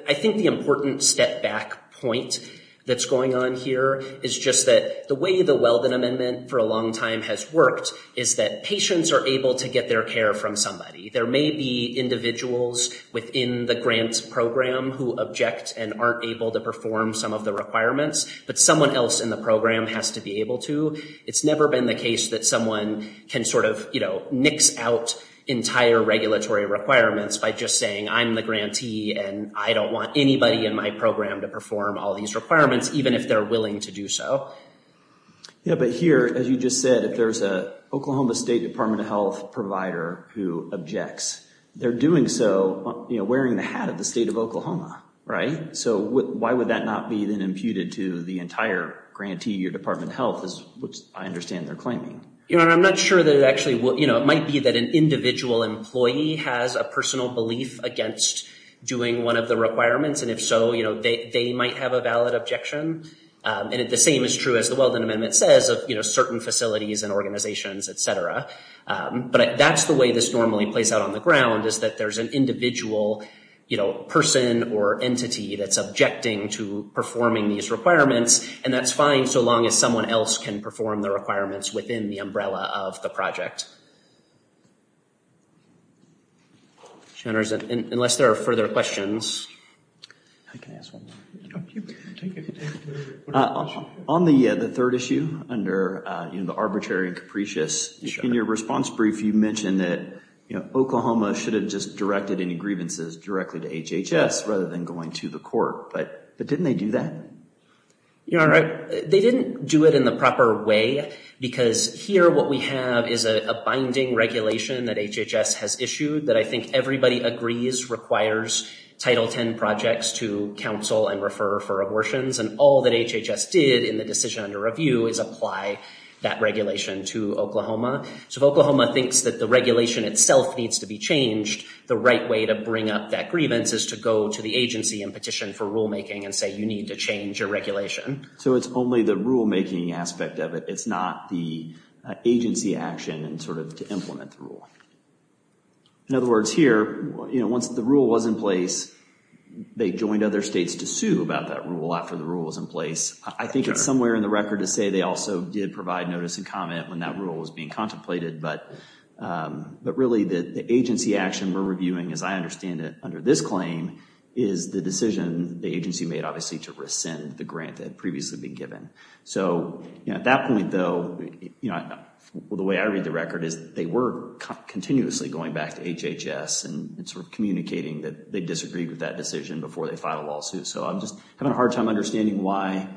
I think the important step back point that's going on here is just that the way the Weldon Amendment for a long time has worked is that patients are able to get their care from somebody. There may be individuals within the grant program who object and aren't able to perform some of the requirements, but someone else in the program has to be able to. It's never been the case that someone can sort of, you know, nix out entire regulatory requirements by just saying, I'm the grantee and I don't want anybody in my program to perform all these requirements, even if they're willing to do so. Yeah. But here, as you just said, if there's a Oklahoma State Department of Health provider who objects, they're doing so, you know, wearing the hat of the state of Oklahoma. Right. So why would that not be then imputed to the entire grantee or Department of Health is what I understand they're claiming. You know, I'm not sure that it actually will, you know, it might be that an individual employee has a personal belief against doing one of the requirements. And if so, you know, they might have a valid objection. And the same is true as the Weldon Amendment says, you know, certain facilities and organizations, et cetera. But that's the way this normally plays out on the ground is that there's an individual, you know, person or entity that's objecting to performing these requirements. And that's fine so long as someone else can perform the requirements within the umbrella of the project. Yes. Unless there are further questions. I can ask one more. On the third issue under, you know, the arbitrary and capricious, in your response brief you mentioned that, you know, Oklahoma should have just directed any grievances directly to HHS rather than going to the court. But didn't they do that? Your Honor, they didn't do it in the proper way because here what we have is a binding regulation that HHS has issued that I think everybody agrees requires Title X projects to counsel and refer for abortions. And all that HHS did in the decision under review is apply that regulation to Oklahoma. So if Oklahoma thinks that the regulation itself needs to be changed, the right way to bring up that grievance is to go to the agency and petition for rulemaking and say, you need to change your regulation. So it's only the rulemaking aspect of it. It's not the agency action and sort of to implement the rule. In other words, here, you know, once the rule was in place, they joined other states to sue about that rule after the rule was in place. I think it's somewhere in the record to say they also did provide notice and comment when that rule was being contemplated. But really the agency action we're reviewing, as I understand it, under this claim is the decision the agency made, obviously, to rescind the grant that had previously been given. So at that point, though, you know, the way I read the record is they were continuously going back to HHS and sort of communicating that they disagreed with that decision before they filed a lawsuit. So I'm just having a hard time understanding why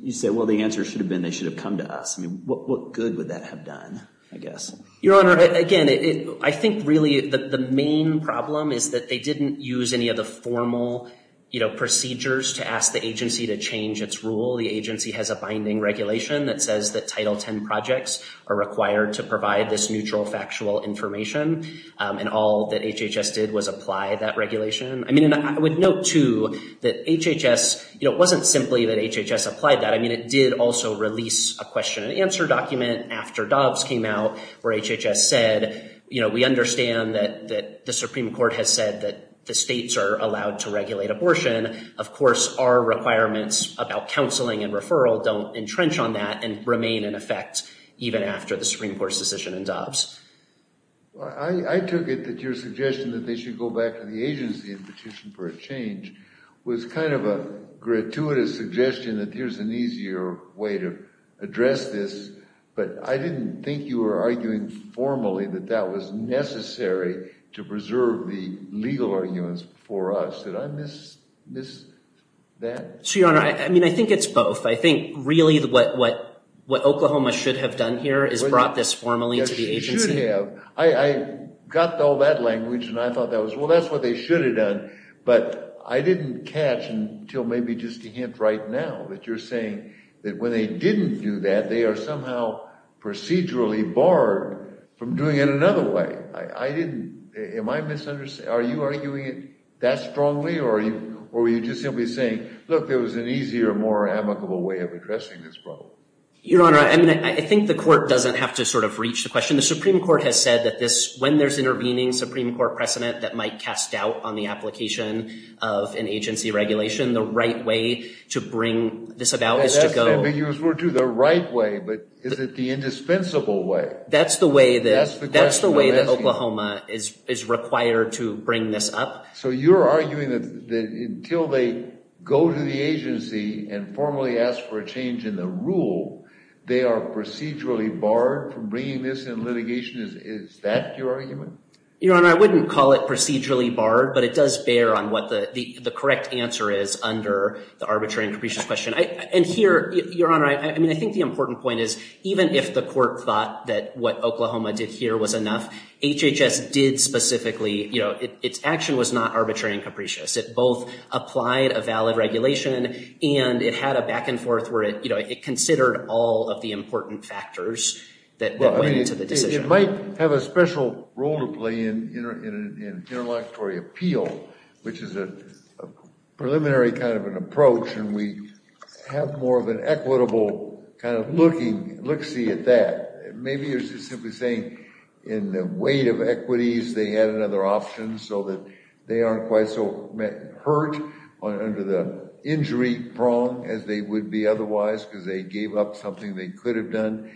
you say, well, the answer should have been they should have come to us. I mean, what good would that have done, I guess? Your Honor, again, I think really the main problem is that they didn't use any of the formal, you know, procedures to ask the agency to change its rule. The agency has a binding regulation that says that Title X projects are required to provide this neutral factual information. And all that HHS did was apply that regulation. I mean, and I would note, too, that HHS, you know, it wasn't simply that HHS applied that. I mean, it did also release a question and answer document after Dobbs came out where HHS said, you know, we understand that the Supreme Court has said that the states are allowed to regulate abortion. Of course, our requirements about counseling and referral don't entrench on that and remain in effect even after the Supreme Court's decision in Dobbs. I took it that your suggestion that they should go back to the agency and petition for a change was kind of a gratuitous suggestion that here's an easier way to address this. But I didn't think you were arguing formally that that was necessary to preserve the legal arguments for us. Did I miss that? So, Your Honor, I mean, I think it's both. I think really what Oklahoma should have done here is brought this formally to the agency. It should have. I got all that language and I thought that was, well, that's what they should have done. But I didn't catch until maybe just a hint right now that you're saying that when they didn't do that, they are somehow procedurally barred from doing it another way. I didn't. Am I misunderstanding? Are you arguing that strongly or were you just simply saying, look, there was an easier, more amicable way of addressing this problem? Your Honor, I mean, I think the court doesn't have to sort of reach the question. The Supreme Court has said that when there's intervening Supreme Court precedent that might cast doubt on the application of an agency regulation, the right way to bring this about is to go to the right way. But is it the indispensable way? That's the way that Oklahoma is required to bring this up. So you're arguing that until they go to the agency and formally ask for a change in the rule, they are procedurally barred from bringing this in litigation? Is that your argument? Your Honor, I wouldn't call it procedurally barred, but it does bear on what the correct answer is under the arbitrary and capricious question. And here, Your Honor, I mean, I think the important point is even if the court thought that what Oklahoma did here was enough, HHS did specifically, you know, its action was not arbitrary and capricious. It both applied a valid regulation, and it had a back-and-forth where it considered all of the important factors that went into the decision. It might have a special role to play in interlocutory appeal, which is a preliminary kind of an approach, and we have more of an equitable kind of looking at that. Maybe you're simply saying in the weight of equities they had another option so that they aren't quite so hurt under the injury prong as they would be otherwise because they gave up something they could have done.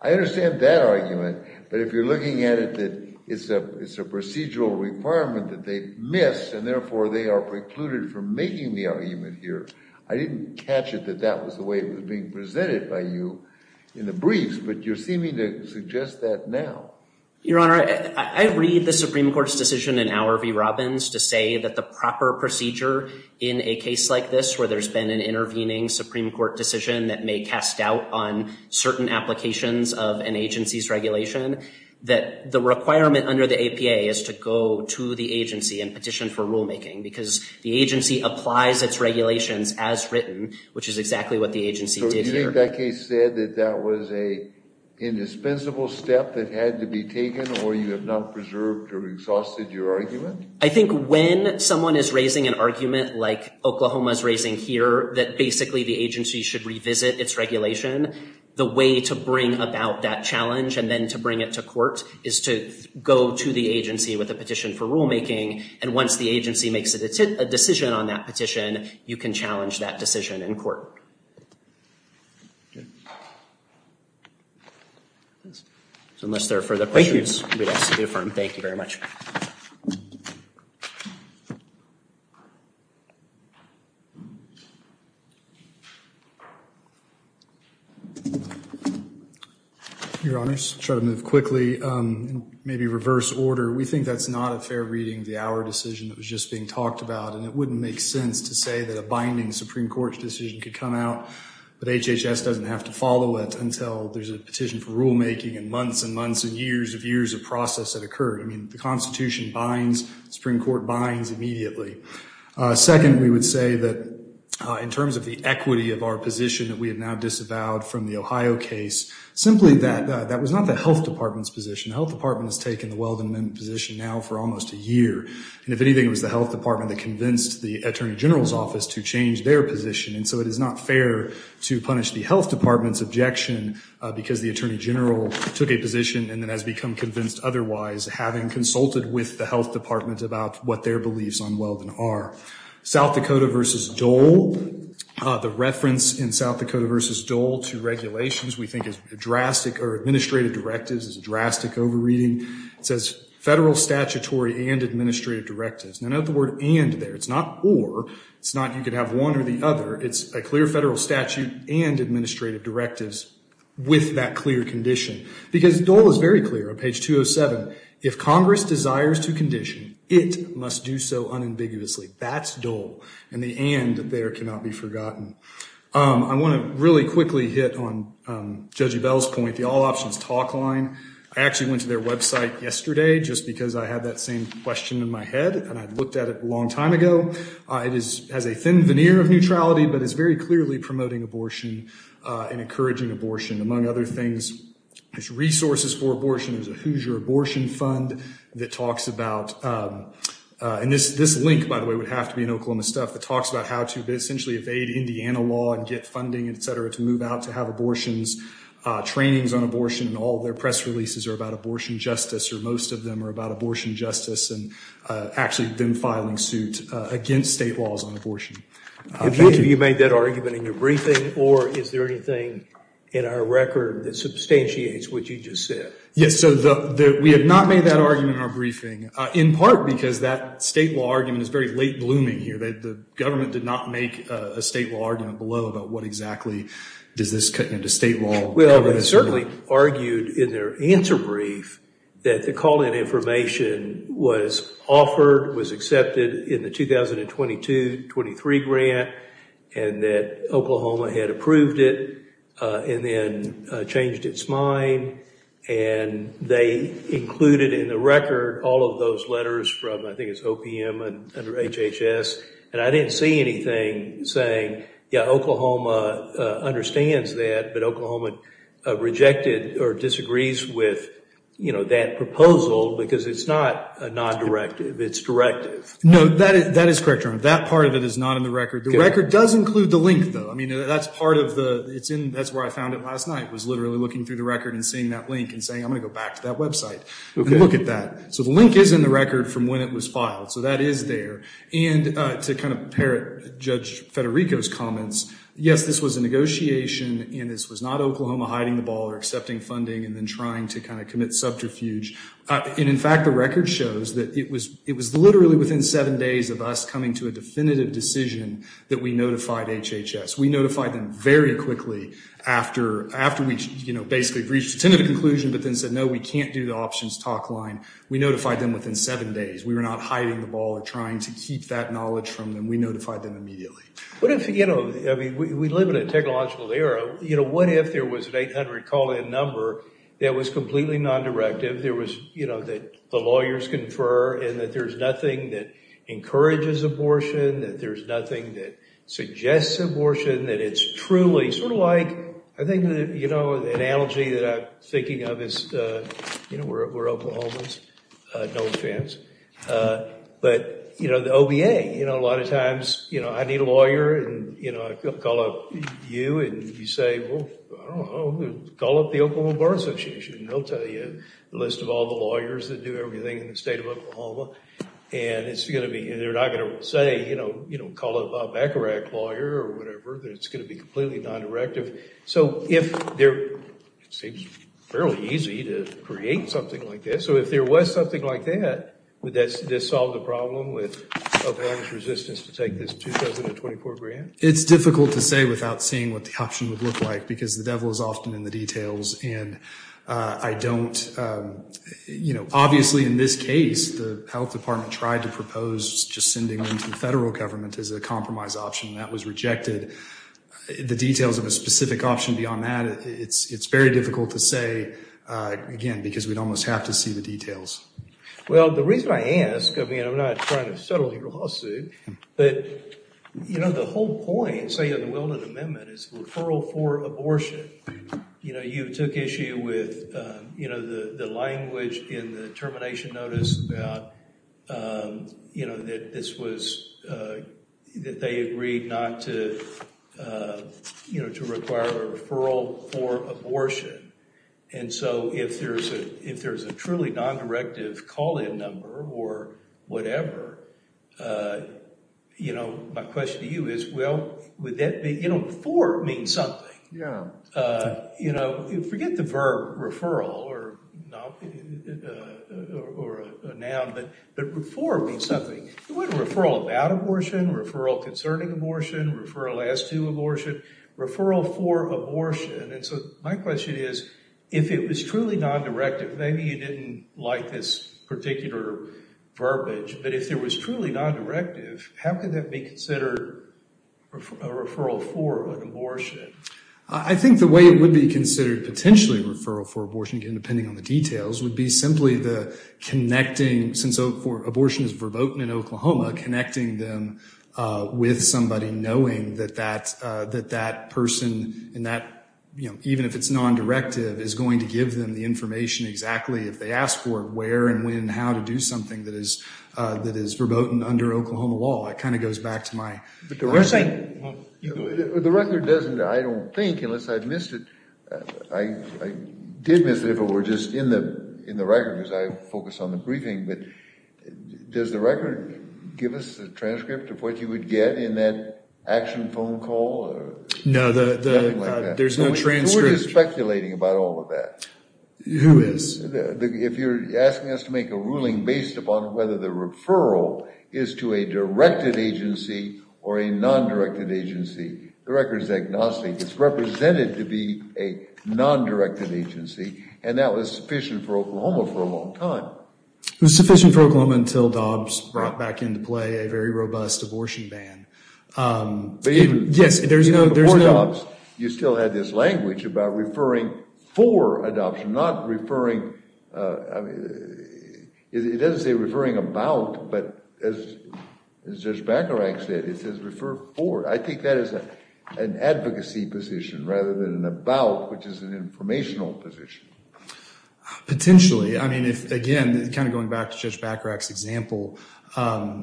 I understand that argument, but if you're looking at it that it's a procedural requirement that they missed and, therefore, they are precluded from making the argument here, I didn't catch it that that was the way it was being presented by you in the briefs, but you're seeming to suggest that now. Your Honor, I read the Supreme Court's decision in Auer v. Robbins to say that the proper procedure in a case like this where there's been an intervening Supreme Court decision that may cast doubt on certain applications of an agency's regulation, that the requirement under the APA is to go to the agency and petition for rulemaking because the agency applies its regulations as written, which is exactly what the agency did here. You think that case said that that was an indispensable step that had to be taken or you have not preserved or exhausted your argument? I think when someone is raising an argument like Oklahoma is raising here that basically the agency should revisit its regulation, the way to bring about that challenge and then to bring it to court is to go to the agency with a petition for rulemaking, and once the agency makes a decision on that petition, then you can challenge that decision in court. Unless there are further questions. Thank you very much. Your Honors, try to move quickly, maybe reverse order. We think that's not a fair reading of the Auer decision that was just being said that a binding Supreme Court decision could come out, but HHS doesn't have to follow it until there's a petition for rulemaking and months and months and years of years of process that occurred. I mean, the Constitution binds, Supreme Court binds immediately. Second, we would say that in terms of the equity of our position that we have now disavowed from the Ohio case, simply that that was not the Health Department's position. The Health Department has taken the Weldon Amendment position now for almost a year, and if anything, it was the Health Department that convinced the Attorney General's office to change their position, and so it is not fair to punish the Health Department's objection because the Attorney General took a position and then has become convinced otherwise, having consulted with the Health Department about what their beliefs on Weldon are. South Dakota v. Dole, the reference in South Dakota v. Dole to regulations we think is a drastic, or administrative directives, is a drastic overreading. It says federal statutory and administrative directives. Now note the word and there. It's not or. It's not you could have one or the other. It's a clear federal statute and administrative directives with that clear condition because Dole is very clear on page 207. If Congress desires to condition, it must do so unambiguously. That's Dole, and the and there cannot be forgotten. I want to really quickly hit on Judge Ebell's point, the all options talk line. I actually went to their website yesterday just because I had that same question in my head, and I looked at it a long time ago. It has a thin veneer of neutrality, but it's very clearly promoting abortion and encouraging abortion. Among other things, there's resources for abortion. There's a Hoosier abortion fund that talks about, and this link, by the way, would have to be in Oklahoma stuff, that talks about how to essentially evade Indiana law and get funding, et cetera, to move out to have abortions. Trainings on abortion and all their press releases are about abortion justice, or most of them are about abortion justice and actually them filing suit against state laws on abortion. Have you made that argument in your briefing, or is there anything in our record that substantiates what you just said? Yes, so we have not made that argument in our briefing, in part because that state law argument is very late blooming here. The government did not make a state law argument below about what exactly does this cut into state law. Well, they certainly argued in their answer brief that the call-in information was offered, was accepted in the 2022-23 grant, and that Oklahoma had approved it and then changed its mind, and they included in the record all of those letters from, I think it's OPM, under HHS, and I didn't see anything saying, yeah, Oklahoma understands that, but Oklahoma rejected or disagrees with, you know, that proposal because it's not a non-directive. It's directive. No, that is correct, Your Honor. That part of it is not in the record. The record does include the link, though. I mean, that's part of the – that's where I found it last night was literally looking through the record and seeing that link and saying, I'm going to go back to that website and look at that. So the link is in the record from when it was filed, so that is there. And to kind of parrot Judge Federico's comments, yes, this was a negotiation and this was not Oklahoma hiding the ball or accepting funding and then trying to kind of commit subterfuge. And, in fact, the record shows that it was literally within seven days of us coming to a definitive decision that we notified HHS. We notified them very quickly after we, you know, basically reached a tentative conclusion but then said, no, we can't do the options talk line. We notified them within seven days. We were not hiding the ball or trying to keep that knowledge from them. We notified them immediately. What if, you know – I mean, we live in a technological era. You know, what if there was an 800 call-in number that was completely non-directive, there was, you know, that the lawyers confer and that there's nothing that encourages abortion, that there's nothing that suggests abortion, that it's truly sort of like – I think, you know, the analogy that I'm thinking of is, you know, we're Oklahomans, no offense, but, you know, the OBA, you know, a lot of times, you know, I need a lawyer, and, you know, I call up you and you say, well, I don't know, call up the Oklahoma Bar Association and they'll tell you the list of all the lawyers that do everything in the state of Oklahoma, and it's going to be – and they're not going to say, you know, call up a Bacharach lawyer or whatever. It's going to be completely non-directive. So if there – it seems fairly easy to create something like this. So if there was something like that that solved the problem with Oklahoma's resistance to take this 2024 grant? It's difficult to say without seeing what the option would look like because the devil is often in the details, and I don't – you know, obviously in this case the health department tried to propose just sending them to the federal government as a compromise option, and that was rejected. The details of a specific option beyond that, it's very difficult to say, again, because we'd almost have to see the details. Well, the reason I ask – I mean, I'm not trying to settle your lawsuit, but, you know, the whole point, say, of the Wilder amendment is referral for abortion. You know, you took issue with, you know, the language in the termination notice about, you know, that this was – that they agreed not to, you know, to require a referral for abortion. And so if there's a truly non-directive call-in number or whatever, you know, my question to you is, well, would that be – you know, for means something. Yeah. You know, forget the verb referral or a noun, but for means something. You want a referral about abortion, referral concerning abortion, referral as to abortion, referral for abortion. And so my question is, if it was truly non-directive, maybe you didn't like this particular verbiage, but if it was truly non-directive, how could that be considered a referral for an abortion? I think the way it would be considered potentially a referral for abortion, again, depending on the details, would be simply the connecting – since abortion is verboten in Oklahoma, connecting them with somebody, knowing that that person in that – you know, even if it's non-directive, is going to give them the information exactly if they ask for it, where and when and how to do something that is verboten under Oklahoma law. That kind of goes back to my question. The record doesn't – I don't think, unless I missed it – I did miss it if it were just in the record because I focus on the briefing, but does the record give us a transcript of what you would get in that action phone call? No, there's no transcript. Who are you speculating about all of that? Who is? If you're asking us to make a ruling based upon whether the referral is to a directed agency or a non-directed agency, the record is agnostic. It's represented to be a non-directed agency, and that was sufficient for Oklahoma for a long time. It was sufficient for Oklahoma until Dobbs brought back into play a very robust abortion ban. But even before Dobbs, you still had this language about referring for adoption, not referring – I mean, it doesn't say referring about, but as Judge Bacharach said, it says refer for. I think that is an advocacy position rather than an about, which is an informational position. Potentially. I mean, again, kind of going back to Judge Bacharach's example,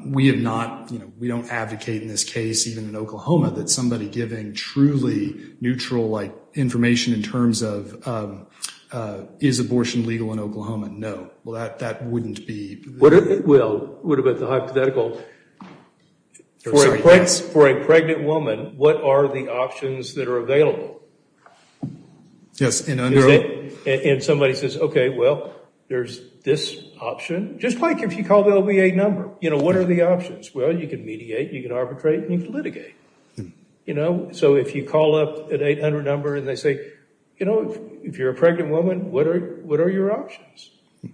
we have not – we don't advocate in this case, even in Oklahoma, that somebody giving truly neutral information in terms of is abortion legal in Oklahoma? No. Well, that wouldn't be – Well, it would have been hypothetical. For a pregnant woman, what are the options that are available? Yes. And somebody says, okay, well, there's this option. Just like if you call the LVA number, you know, what are the options? Well, you can mediate, you can arbitrate, and you can litigate. You know? So if you call up an 800 number and they say, you know, if you're a pregnant woman, what are your options?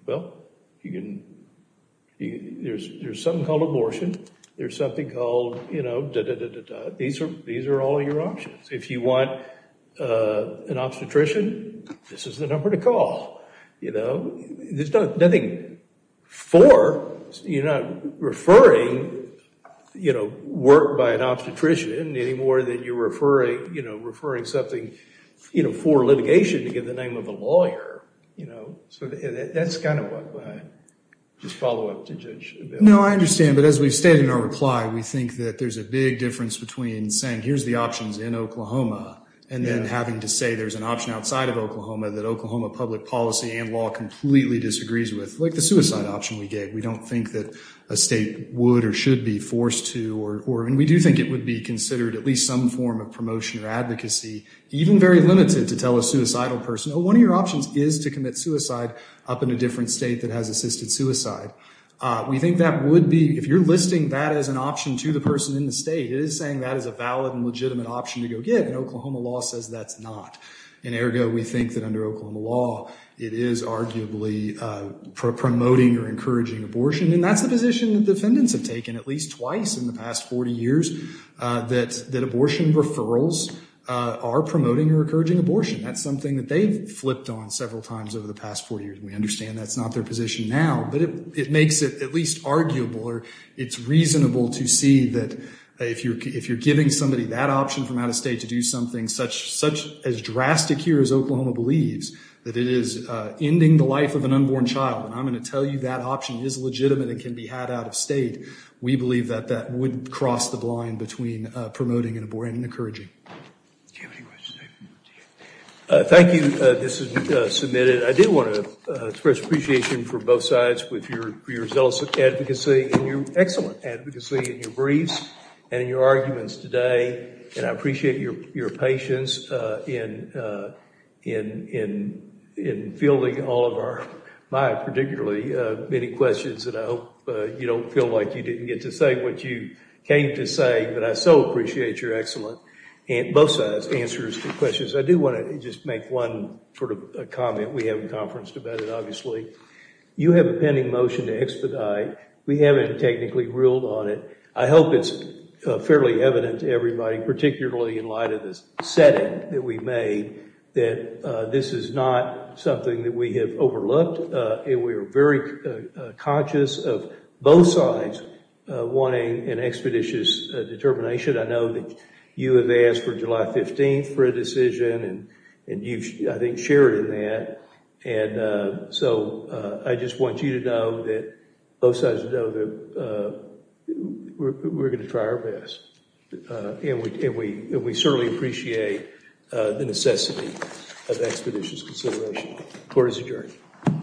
Well, you can – there's something called abortion. There's something called, you know, da-da-da-da-da. These are all your options. If you want an obstetrician, this is the number to call. You know? There's nothing for. You're not referring, you know, work by an obstetrician any more than you're referring, you know, referring something, you know, for litigation to give the name of a lawyer. You know? So that's kind of what I just follow up to judge. No, I understand, but as we've stated in our reply, we think that there's a big difference between saying here's the options in Oklahoma and then having to say there's an option outside of Oklahoma that Oklahoma public policy and law completely disagrees with, like the suicide option we gave. We don't think that a state would or should be forced to, and we do think it would be considered at least some form of promotion or advocacy, even very limited, to tell a suicidal person, oh, one of your options is to commit suicide up in a different state that has assisted suicide. We think that would be, if you're listing that as an option to the person in the state, it is saying that is a valid and legitimate option to go get, and Oklahoma law says that's not. And, ergo, we think that under Oklahoma law it is arguably promoting or encouraging abortion, and that's the position that defendants have taken at least twice in the past 40 years, that abortion referrals are promoting or encouraging abortion. That's something that they've flipped on several times over the past 40 years, and we understand that's not their position now, but it makes it at least arguable or it's reasonable to see that if you're giving somebody that option from out of state to do something such as drastic here as Oklahoma believes, that it is ending the life of an unborn child, and I'm going to tell you that option is legitimate and can be had out of state, we believe that that would cross the line between promoting and encouraging. Do you have any questions? Thank you. This has been submitted. I did want to express appreciation for both sides for your zealous advocacy and your excellent advocacy in your briefs and in your arguments today, and I appreciate your patience in fielding all of our, my particularly, many questions, and I hope you don't feel like you didn't get to say what you came to say, but I so appreciate your excellent answers to questions. I do want to just make one sort of comment. We haven't conferenced about it, obviously. You have a pending motion to expedite. We haven't technically ruled on it. I hope it's fairly evident to everybody, particularly in light of this setting that we made, that this is not something that we have overlooked, and we are very conscious of both sides wanting an expeditious determination. I know that you have asked for July 15th for a decision, and you, I think, shared in that, and so I just want you to know that both sides know that we're going to try our best, and we certainly appreciate the necessity of expeditious consideration. Court is adjourned.